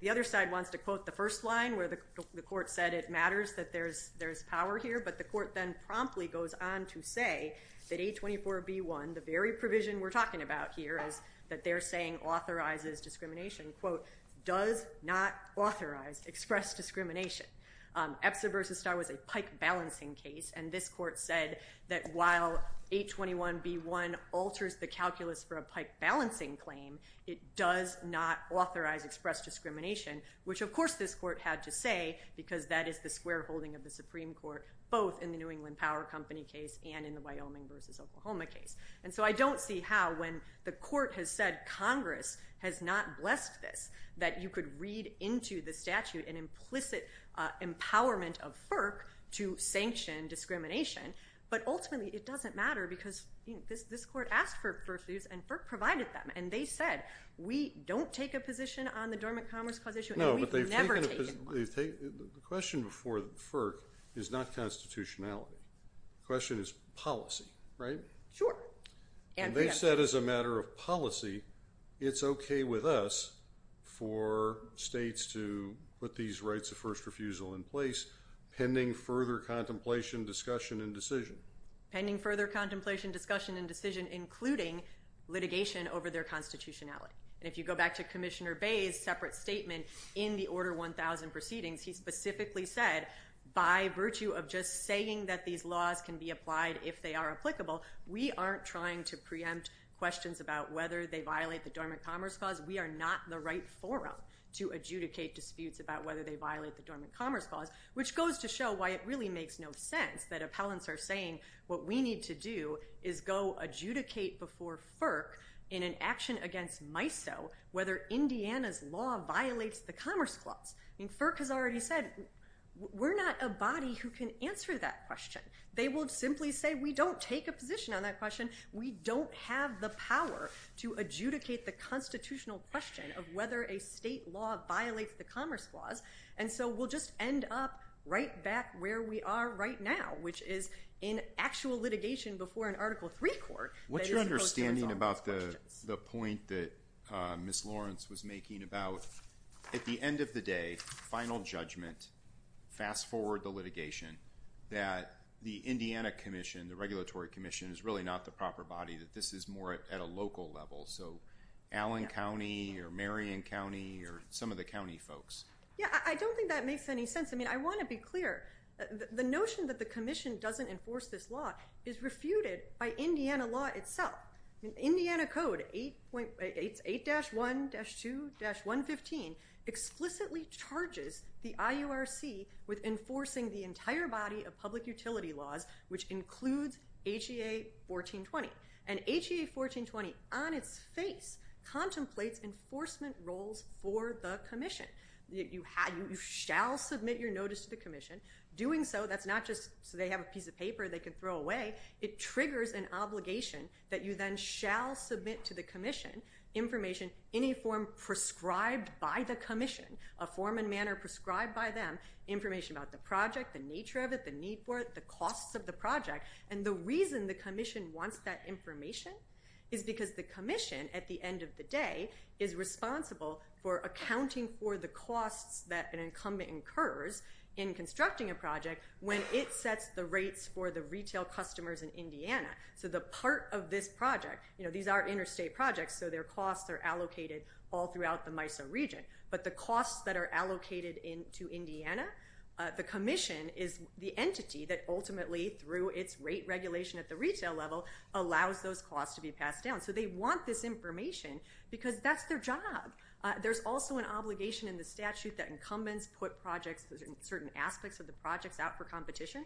the other side wants to quote the first line where the court said it matters that there's power here, but the court then promptly goes on to say that A24B1, the very provision we're talking about here is that they're saying authorizes discrimination, quote, does not authorize expressed discrimination. EPSA versus Starr was a pike balancing case, and this court said that while A21B1 alters the calculus for a pike balancing claim, it does not authorize expressed discrimination, which of course this court had to say, because that is the square holding of the Supreme Court, both in the New England Power Company case and in the Wyoming versus Oklahoma case. And so I don't see how, when the court has said Congress has not blessed this, that you could read into the statute an implicit empowerment of FERC to sanction discrimination, but ultimately it doesn't matter because this court asked for FERC's views and FERC provided them, and they said, we don't take a position on the dormant commerce clause issue, and we've never taken one. The question before FERC is not constitutionality. The question is policy, right? Sure. And they said as a matter of policy, it's okay with us for states to put these rights of first refusal in place pending further contemplation, discussion, and decision. Pending further contemplation, discussion, and decision, including litigation over their constitutionality. And if you go back to Commissioner Bay's separate statement in the Order 1000 proceedings, he specifically said, by virtue of just saying that these laws can be applied if they are applicable, we aren't trying to preempt questions about whether they violate the dormant commerce clause. We are not the right forum to adjudicate disputes about whether they violate the dormant commerce clause, which goes to show why it really makes no sense that appellants are saying what we need to do is go adjudicate before FERC in an action against MISO whether Indiana's law violates the commerce clause. FERC has already said, we're not a body who can answer that question. They will simply say, we don't take a position on that question. We don't have the power to adjudicate the constitutional question of whether a state law violates the commerce clause. And so we'll just end up right back where we are right now, which is in actual litigation before an Article III court. What's your understanding about the point that Ms. Lawrence was making about, at the end of the day, final judgment, fast forward the litigation, that the Indiana Commission, the Regulatory Commission, is really not the proper body, that this is more at a local level. So Allen County or Marion County or some of the county folks. Yeah, I don't think that makes any sense. I mean, I want to be clear. The notion that the Commission doesn't enforce this law is refuted by Indiana law itself. Indiana Code 8-1-2-115 explicitly charges the IURC with enforcing the entire body of public utility laws, which includes HEA 1420. And HEA 1420, on its face, contemplates enforcement roles for the Commission. You shall submit your notice to the Commission. Doing so, that's not just so they have a piece of paper they can throw away. It triggers an obligation that you then shall submit to the Commission information in a form prescribed by the Commission, a form and manner prescribed by them, information about the project, the nature of it, the need for it, the costs of the project, and the reason the Commission wants that information is because the Commission, at the end of the day, is responsible for accounting for the costs that an incumbent incurs in constructing a project when it sets the rates for the retail customers in Indiana. So the part of this project, you know, these are interstate projects, so their costs are allocated all throughout the MISO region, but the costs that are allocated to Indiana, the Commission is the entity that ultimately, through its rate regulation at the retail level, allows those costs to be passed down. So they want this information because that's their job. There's also an obligation in the statute that incumbents put certain aspects of the projects out for competition.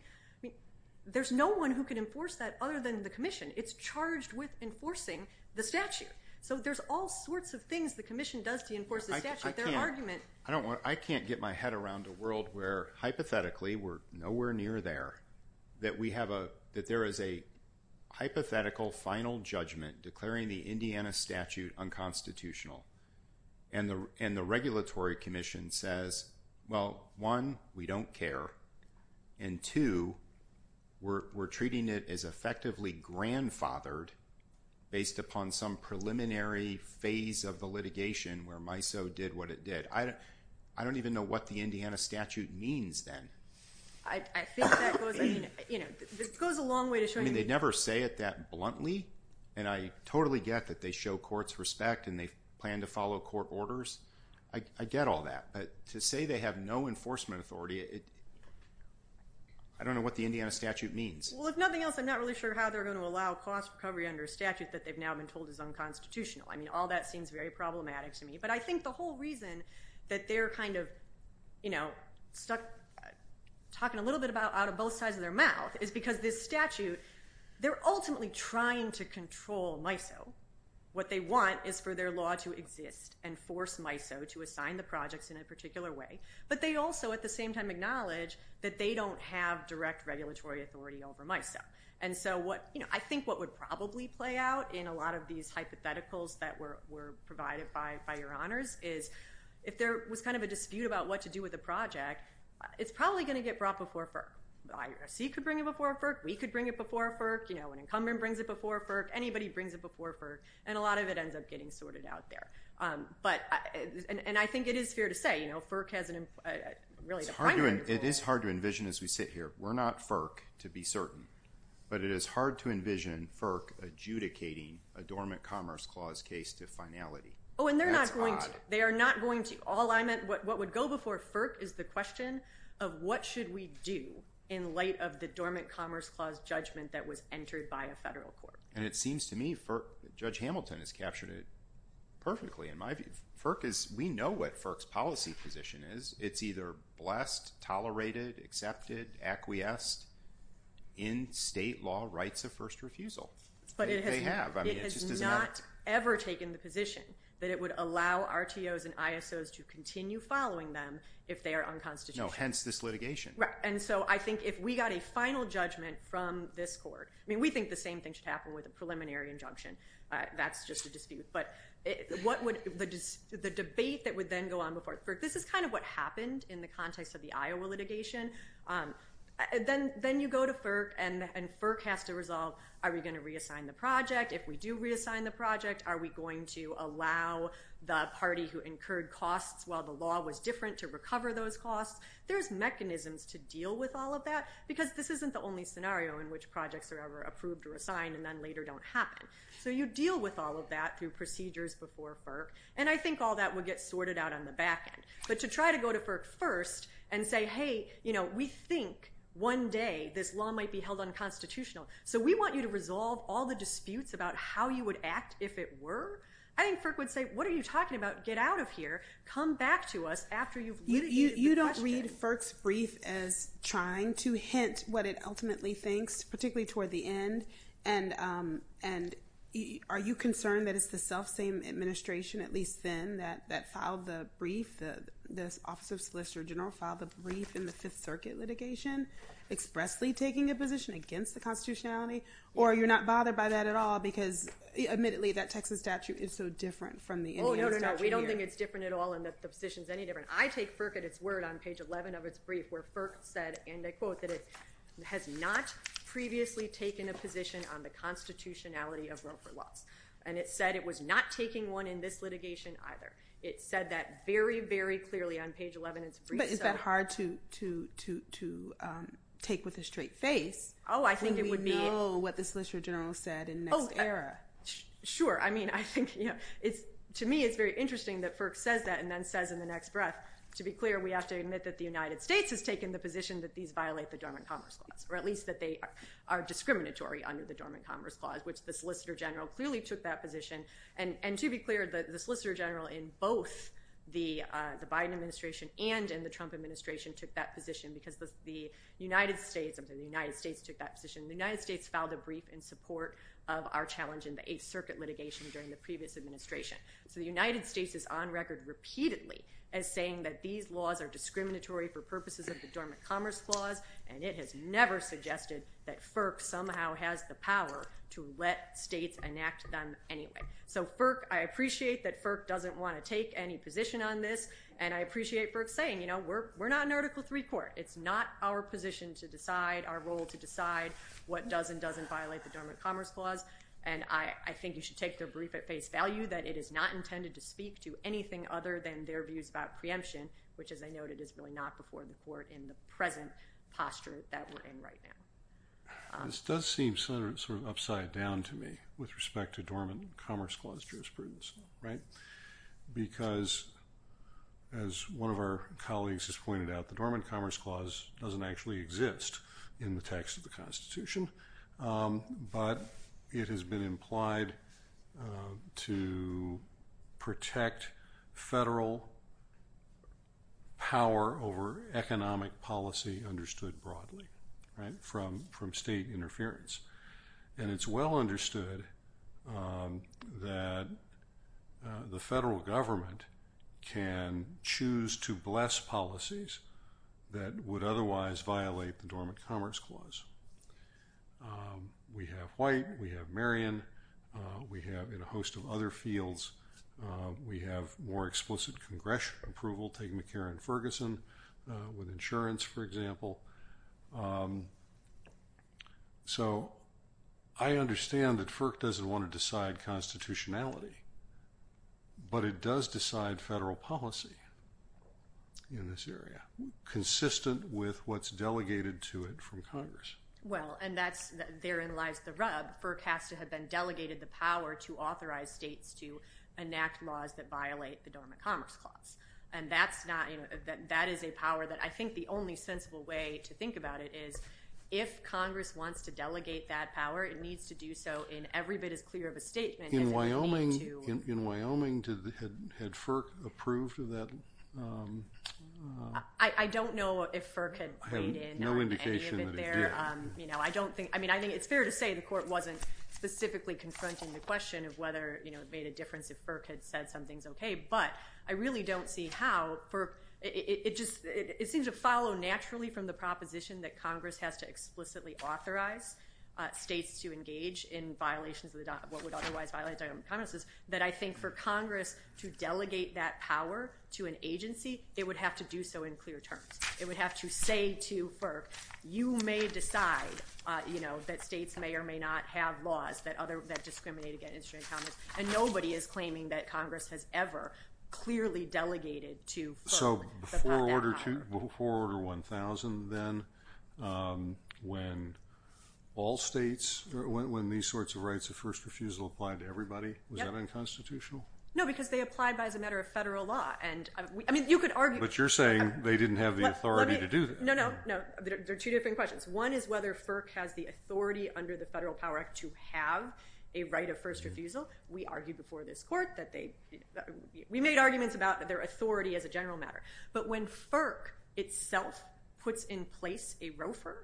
There's no one who can enforce that other than the Commission. It's charged with enforcing the statute. So there's all sorts of things the Commission does to enforce the statute. I can't get my head around a world where, hypothetically, we're nowhere near there, that there is a hypothetical final judgment declaring the Indiana statute unconstitutional, and the Regulatory Commission says, well, one, we don't care, and two, we're treating it as effectively grandfathered based upon some preliminary phase of the litigation where MISO did what it did. I don't even know what the Indiana statute means then. I think that goes, I mean, you know, it goes a long way to show you. I mean, they never say it that bluntly, and I totally get that they show courts respect and they plan to follow court orders. I get all that. But to say they have no enforcement authority, I don't know what the Indiana statute means. Well, if nothing else, I'm not really sure how they're going to allow cost recovery under a statute that they've now been told is unconstitutional. I mean, all that seems very problematic to me. But I think the whole reason that they're kind of, you know, stuck talking a little bit out of both sides of their mouth is because this statute, they're ultimately trying to control MISO. What they want is for their law to exist and force MISO to assign the projects in a particular way. But they also at the same time acknowledge that they don't have direct regulatory authority over MISO. And so what, you know, I think what would probably play out in a lot of these hypotheticals that were provided by your honors is if there was kind of a dispute about what to do with a project, it's probably going to get brought before FERC. The IRC could bring it before FERC. We could bring it before FERC. You know, an incumbent brings it before FERC. Anybody brings it before FERC. And a lot of it ends up getting sorted out there. But, and I think it is fair to say, you know, FERC has really a primary role. It is hard to envision as we sit here. We're not FERC to be certain. But it is hard to envision FERC adjudicating a Dormant Commerce Clause case to finality. Oh, and they're not going to. They are not going to. All I meant, what would go before FERC is the question of what should we do in light of the Dormant Commerce Clause judgment that was entered by a federal court. And it seems to me FERC, Judge Hamilton has captured it perfectly in my view. FERC is, we know what FERC's policy position is. It's either blessed, tolerated, accepted, acquiesced in state law rights of first refusal. But it has not ever taken the position that it would allow RTOs and ISOs to continue following them if they are unconstitutional. No, hence this litigation. Right. And so I think if we got a final judgment from this court, I mean we think the same thing should happen with a preliminary injunction. That's just a dispute. But what would, the debate that would then go on before FERC, this is kind of what happened in the context of the Iowa litigation. Then you go to FERC and FERC has to resolve, are we going to reassign the project? If we do reassign the project, are we going to allow the party who incurred costs while the law was different to recover those costs? There's mechanisms to deal with all of that because this isn't the only scenario in which projects are ever approved or assigned and then later don't happen. So you deal with all of that through procedures before FERC. And I think all that would get sorted out on the back end. But to try to go to FERC first and say, hey, you know, we think one day this law might be held unconstitutional. So we want you to resolve all the disputes about how you would act if it were. I think FERC would say, what are you talking about? Get out of here. Come back to us after you've literally answered the question. You made FERC's brief as trying to hint what it ultimately thinks, particularly toward the end. And are you concerned that it's the self-same administration, at least then, that filed the brief, the Office of Solicitor General filed the brief in the Fifth Circuit litigation expressly taking a position against the constitutionality? Or you're not bothered by that at all because, admittedly, that Texas statute is so different from the Indian statute here? Oh, no, no, no. We don't think it's different at all and that the position is any different. I take FERC at its word on page 11 of its brief where FERC said, and I quote, that it has not previously taken a position on the constitutionality of row for loss. And it said it was not taking one in this litigation either. It said that very, very clearly on page 11 of its brief. But is that hard to take with a straight face? Oh, I think it would be. When we know what the Solicitor General said in the next era. Sure. I mean, I think, you know, to me it's very interesting that FERC says that and then says in the next breath, to be clear, we have to admit that the United States has taken the position that these violate the Dormant Commerce Clause. Or at least that they are discriminatory under the Dormant Commerce Clause, which the Solicitor General clearly took that position. And to be clear, the Solicitor General in both the Biden administration and in the Trump administration took that position because the United States, I'm sorry, the United States took that position. The United States filed a brief in support of our challenge in the Eighth Circuit litigation during the previous administration. So the United States is on record repeatedly as saying that these laws are discriminatory for purposes of the Dormant Commerce Clause and it has never suggested that FERC somehow has the power to let states enact them anyway. So FERC, I appreciate that FERC doesn't want to take any position on this and I appreciate FERC saying, you know, we're not an Article III court. It's not our position to decide, our role to decide what does and doesn't violate the Dormant Commerce Clause. And I think you should take their brief at face value that it is not intended to speak to anything other than their views about preemption, which as I noted is really not before the court in the present posture that we're in right now. This does seem sort of upside down to me with respect to Dormant Commerce Clause jurisprudence, right? Because as one of our colleagues has pointed out, the Dormant Commerce Clause doesn't actually exist in the text of the Constitution. But it has been implied to protect federal power over economic policy understood broadly, right, from state interference. And it's well understood that the federal government can choose to bless policies that would otherwise violate the Dormant Commerce Clause. We have White, we have Marion, we have a host of other fields. We have more explicit congressional approval, take McCarran-Ferguson with insurance, for example. So I understand that FERC doesn't want to decide constitutionality, but it does decide federal policy in this area, consistent with what's delegated to it from Congress. Well, and that's, therein lies the rub. FERC has to have been delegated the power to authorize states to enact laws that violate the Dormant Commerce Clause. And that's not, that is a power that I think the only sensible way to think about it is if Congress wants to delegate that power, it needs to do so in every bit as clear of a statement as it would need to. In Wyoming, had FERC approved of that? I don't know if FERC had played in on any of it there. I have no indication that it did. You know, I don't think, I mean, I think it's fair to say the court wasn't specifically confronting the question of whether, you know, it made a difference if FERC had said something's okay. But I really don't see how. It just, it seems to follow naturally from the proposition that Congress has to explicitly authorize states to engage in violations of the, what would otherwise violate the Dormant Commerce Clause, that I think for Congress to delegate that power to an agency, it would have to do so in clear terms. It would have to say to FERC, you may decide, you know, that states may or may not have laws that discriminate against the Dormant Commerce Clause. And nobody is claiming that Congress has ever clearly delegated to FERC So before Order 1000 then, when all states, when these sorts of rights of first refusal applied to everybody, was that unconstitutional? No, because they applied by as a matter of federal law. And, I mean, you could argue. But you're saying they didn't have the authority to do that. No, no, no. They're two different questions. One is whether FERC has the authority under the Federal Power Act to have a right of first refusal. We argued before this court that they, we made arguments about their authority as a general matter. But when FERC itself puts in place a ROFR,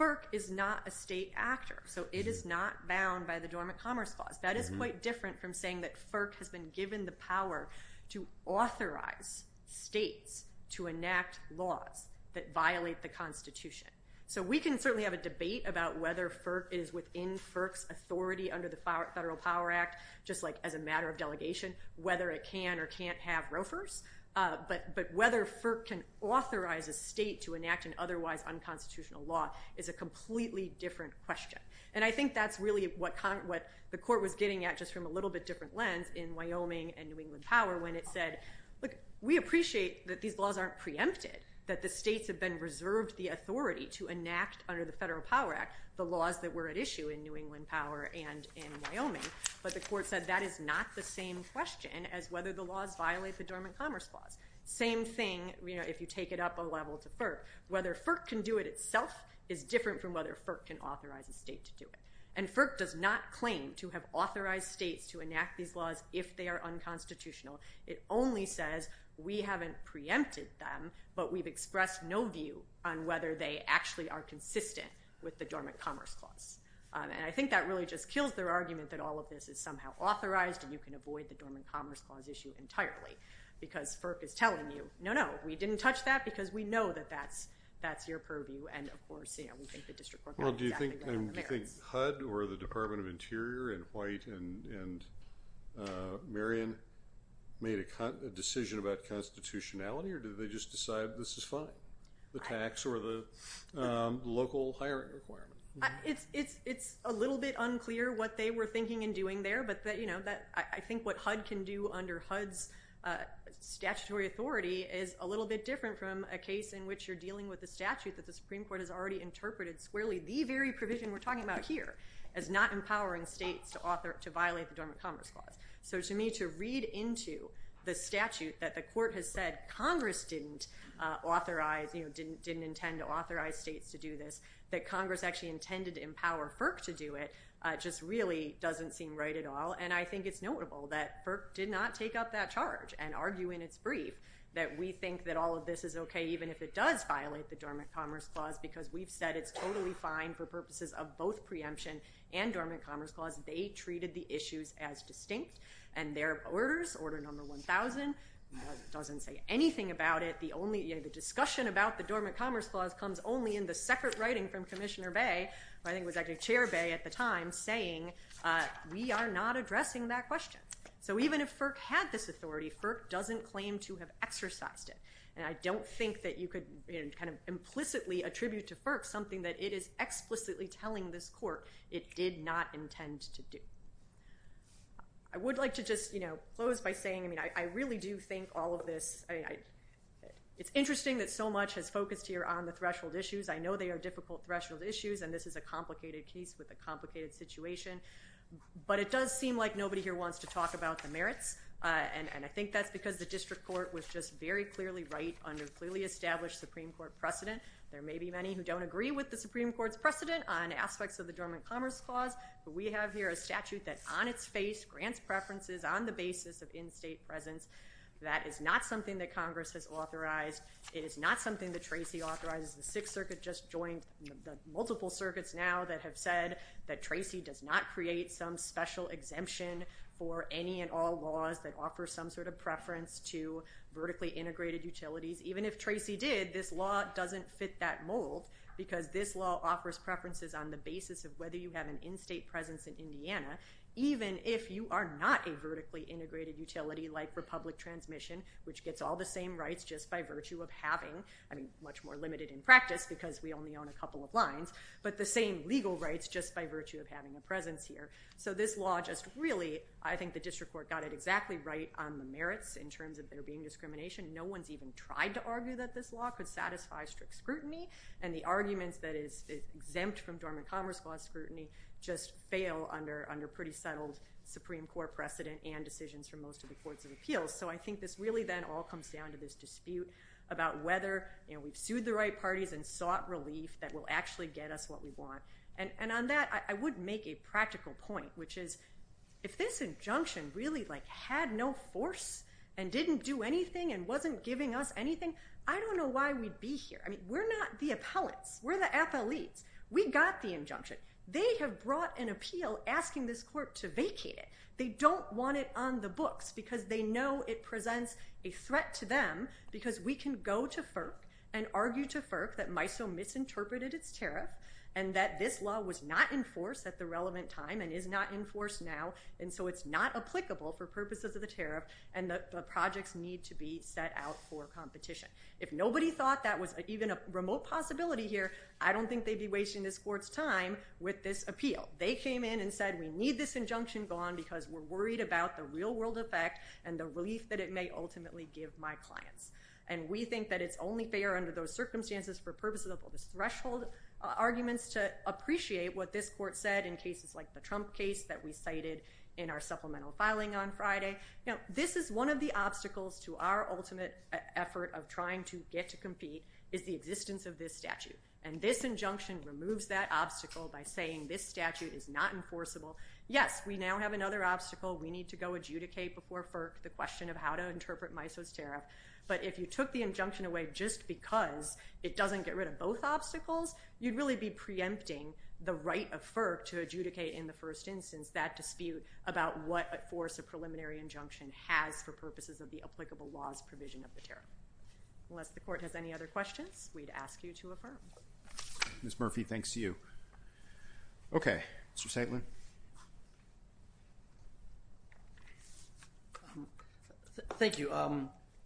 FERC is not a state actor. So it is not bound by the Dormant Commerce Clause. That is quite different from saying that FERC has been given the power to authorize states to enact laws that violate the Constitution. So we can certainly have a debate about whether FERC is within FERC's authority under the Federal Power Act, just like as a matter of delegation, whether it can or can't have ROFRs. But whether FERC can authorize a state to enact an otherwise unconstitutional law is a completely different question. And I think that's really what the court was getting at, just from a little bit different lens, in Wyoming and New England Power, when it said, look, we appreciate that these laws aren't preempted, that the states have been reserved the authority to enact under the Federal Power Act the laws that were at issue in New England Power and in Wyoming. But the court said that is not the same question as whether the laws violate the Dormant Commerce Clause. Same thing, you know, if you take it up a level to FERC. Whether FERC can do it itself is different from whether FERC can authorize a state to do it. And FERC does not claim to have authorized states to enact these laws if they are unconstitutional. It only says we haven't preempted them, but we've expressed no view on whether they actually are consistent with the Dormant Commerce Clause. And I think that really just kills their argument that all of this is somehow authorized and you can avoid the Dormant Commerce Clause issue entirely, because FERC is telling you, no, no, we didn't touch that because we know that that's your purview. And, of course, you know, we think the district court knows exactly what the merits. Do you think HUD or the Department of Interior and White and Marion made a decision about constitutionality, or did they just decide this is fine? The tax or the local hiring requirement? It's a little bit unclear what they were thinking and doing there, but, you know, I think what HUD can do under HUD's statutory authority is a little bit different from a case in which you're dealing with a statute that the Supreme Court has already interpreted squarely, the very provision we're talking about here, as not empowering states to violate the Dormant Commerce Clause. So, to me, to read into the statute that the court has said Congress didn't intend to authorize states to do this, that Congress actually intended to empower FERC to do it, just really doesn't seem right at all. And I think it's notable that FERC did not take up that charge and argue in its brief that we think that all of this is okay even if it does violate the Dormant Commerce Clause because we've said it's totally fine for purposes of both preemption and Dormant Commerce Clause. They treated the issues as distinct, and their orders, Order No. 1000, doesn't say anything about it. The discussion about the Dormant Commerce Clause comes only in the separate writing from Commissioner Bay, who I think was actually Chair Bay at the time, saying we are not addressing that question. So even if FERC had this authority, FERC doesn't claim to have exercised it. And I don't think that you could kind of implicitly attribute to FERC something that it is explicitly telling this court it did not intend to do. I would like to just close by saying I really do think all of this, it's interesting that so much has focused here on the threshold issues. I know they are difficult threshold issues, and this is a complicated case with a complicated situation. But it does seem like nobody here wants to talk about the merits, and I think that's because the District Court was just very clearly right under clearly established Supreme Court precedent. There may be many who don't agree with the Supreme Court's precedent on aspects of the Dormant Commerce Clause, but we have here a statute that on its face grants preferences on the basis of in-state presence. That is not something that Congress has authorized. It is not something that Tracy authorizes. The Sixth Circuit just joined the multiple circuits now that have said that Tracy does not create some special exemption for any and all laws that offer some sort of preference to vertically integrated utilities. Even if Tracy did, this law doesn't fit that mold because this law offers preferences on the basis of whether you have an in-state presence in Indiana, even if you are not a vertically integrated utility like Republic Transmission, which gets all the same rights just by virtue of having, I mean much more limited in practice because we only own a couple of lines, but the same legal rights just by virtue of having a presence here. So this law just really, I think the District Court got it exactly right on the merits in terms of there being discrimination. No one's even tried to argue that this law could satisfy strict scrutiny and the arguments that is exempt from Dormant Commerce Clause scrutiny just fail under pretty settled Supreme Court precedent and decisions from most of the courts of appeals. So I think this really then all comes down to this dispute about whether we've sued the right parties and sought relief that will actually get us what we want. And on that, I would make a practical point, which is if this injunction really had no force and didn't do anything and wasn't giving us anything, I don't know why we'd be here. I mean, we're not the appellants. We're the athletes. We got the injunction. They have brought an appeal asking this court to vacate it. They don't want it on the books because they know it presents a threat to them because we can go to FERC and argue to FERC that MISO misinterpreted its tariff and that this law was not enforced at the relevant time and is not enforced now, and so it's not applicable for purposes of the tariff and the projects need to be set out for competition. If nobody thought that was even a remote possibility here, I don't think they'd be wasting this court's time with this appeal. They came in and said, we need this injunction gone because we're worried about the real-world effect and the relief that it may ultimately give my clients. And we think that it's only fair under those circumstances for purposes of all the threshold arguments to appreciate what this court said in cases like the Trump case that we cited in our supplemental filing on Friday. This is one of the obstacles to our ultimate effort of trying to get to compete is the existence of this statute, and this injunction removes that obstacle by saying this statute is not enforceable. Yes, we now have another obstacle. We need to go adjudicate before FERC the question of how to interpret MISO's tariff, but if you took the injunction away just because it doesn't get rid of both obstacles, you'd really be preempting the right of FERC to adjudicate in the first instance that dispute about what force a preliminary injunction has for purposes of the applicable laws provision of the tariff. Unless the court has any other questions, we'd ask you to affirm. Ms. Murphy, thanks to you. Okay, Mr. Saitlin. Thank you.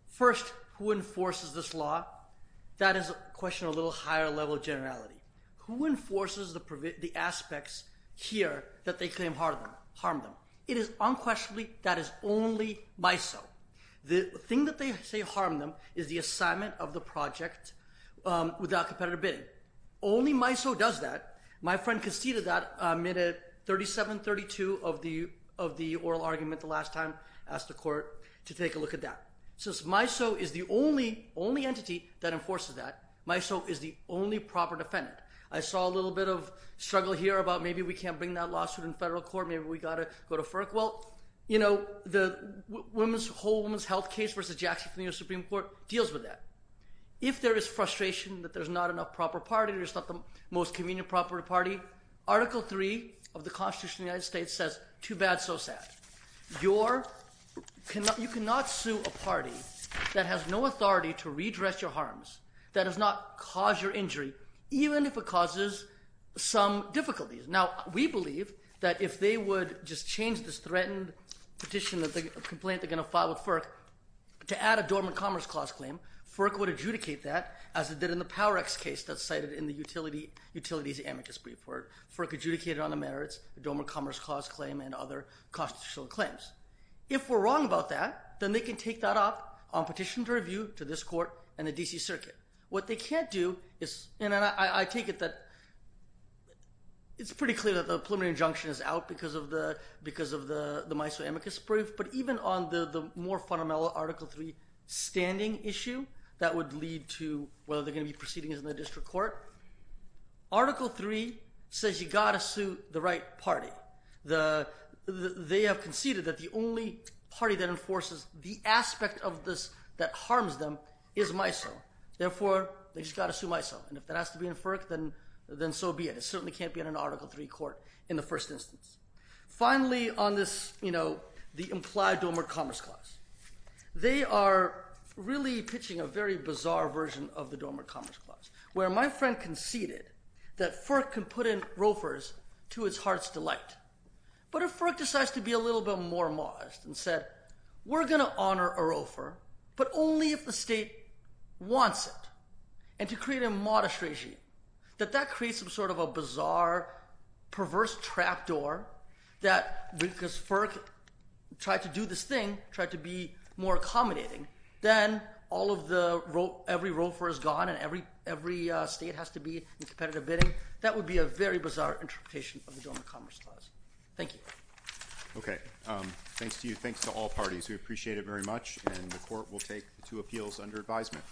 First, who enforces this law? That is a question of a little higher level generality. Who enforces the aspects here that they claim harm them? It is unquestionably that it's only MISO. The thing that they say harmed them is the assignment of the project without competitive bidding. Only MISO does that. My friend conceded that, made a 3732 of the oral argument the last time, asked the court to take a look at that. Since MISO is the only entity that enforces that, MISO is the only proper defendant. I saw a little bit of struggle here about maybe we can't bring that lawsuit in federal court, maybe we've got to go to FERC. Well, you know, the whole women's health case versus Jackson County Supreme Court deals with that. If there is frustration that there's not enough proper parties, there's not the most convenient proper party, Article III of the Constitution of the United States says too bad, so sad. You cannot sue a party that has no authority to redress your harms, that has not caused your injury, even if it causes some difficulties. Now, we believe that if they would just change this threatened petition, the complaint they're going to file with FERC to add a dormant commerce clause claim, FERC would adjudicate that as it did in the Power-X case that's cited in the Utilities Amicus Brief. FERC adjudicated on the merits, dormant commerce clause claim, and other constitutional claims. If we're wrong about that, then they can take that up on petition to review to this court and the D.C. Circuit. What they can't do is, and I take it that it's pretty clear that the preliminary injunction is out because of the MISO Amicus Brief, but even on the more fundamental Article III standing issue that would lead to whether they're going to be proceeding in the district court, Article III says you've got to sue the right party. They have conceded that the only party that enforces the aspect of this that harms them is MISO. Therefore, they've just got to sue MISO, and if that has to be in FERC, then so be it. It certainly can't be in an Article III court in the first instance. Finally, on the implied dormant commerce clause, they are really pitching a very bizarre version of the dormant commerce clause where my friend conceded that FERC can put in roofers to its heart's delight, but if FERC decides to be a little bit more modest and said we're going to honor a roofer, but only if the state wants it, and to create a modest regime, that that creates some sort of a bizarre, perverse trapdoor that because FERC tried to do this thing, tried to be more accommodating, then all of the, every roofer is gone, and every state has to be in competitive bidding. That would be a very bizarre interpretation of the dormant commerce clause. Thank you. Okay. Thanks to you. Thanks to all parties. We appreciate it very much, and the court will take the two appeals under advisement.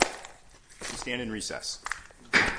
We stand in recess.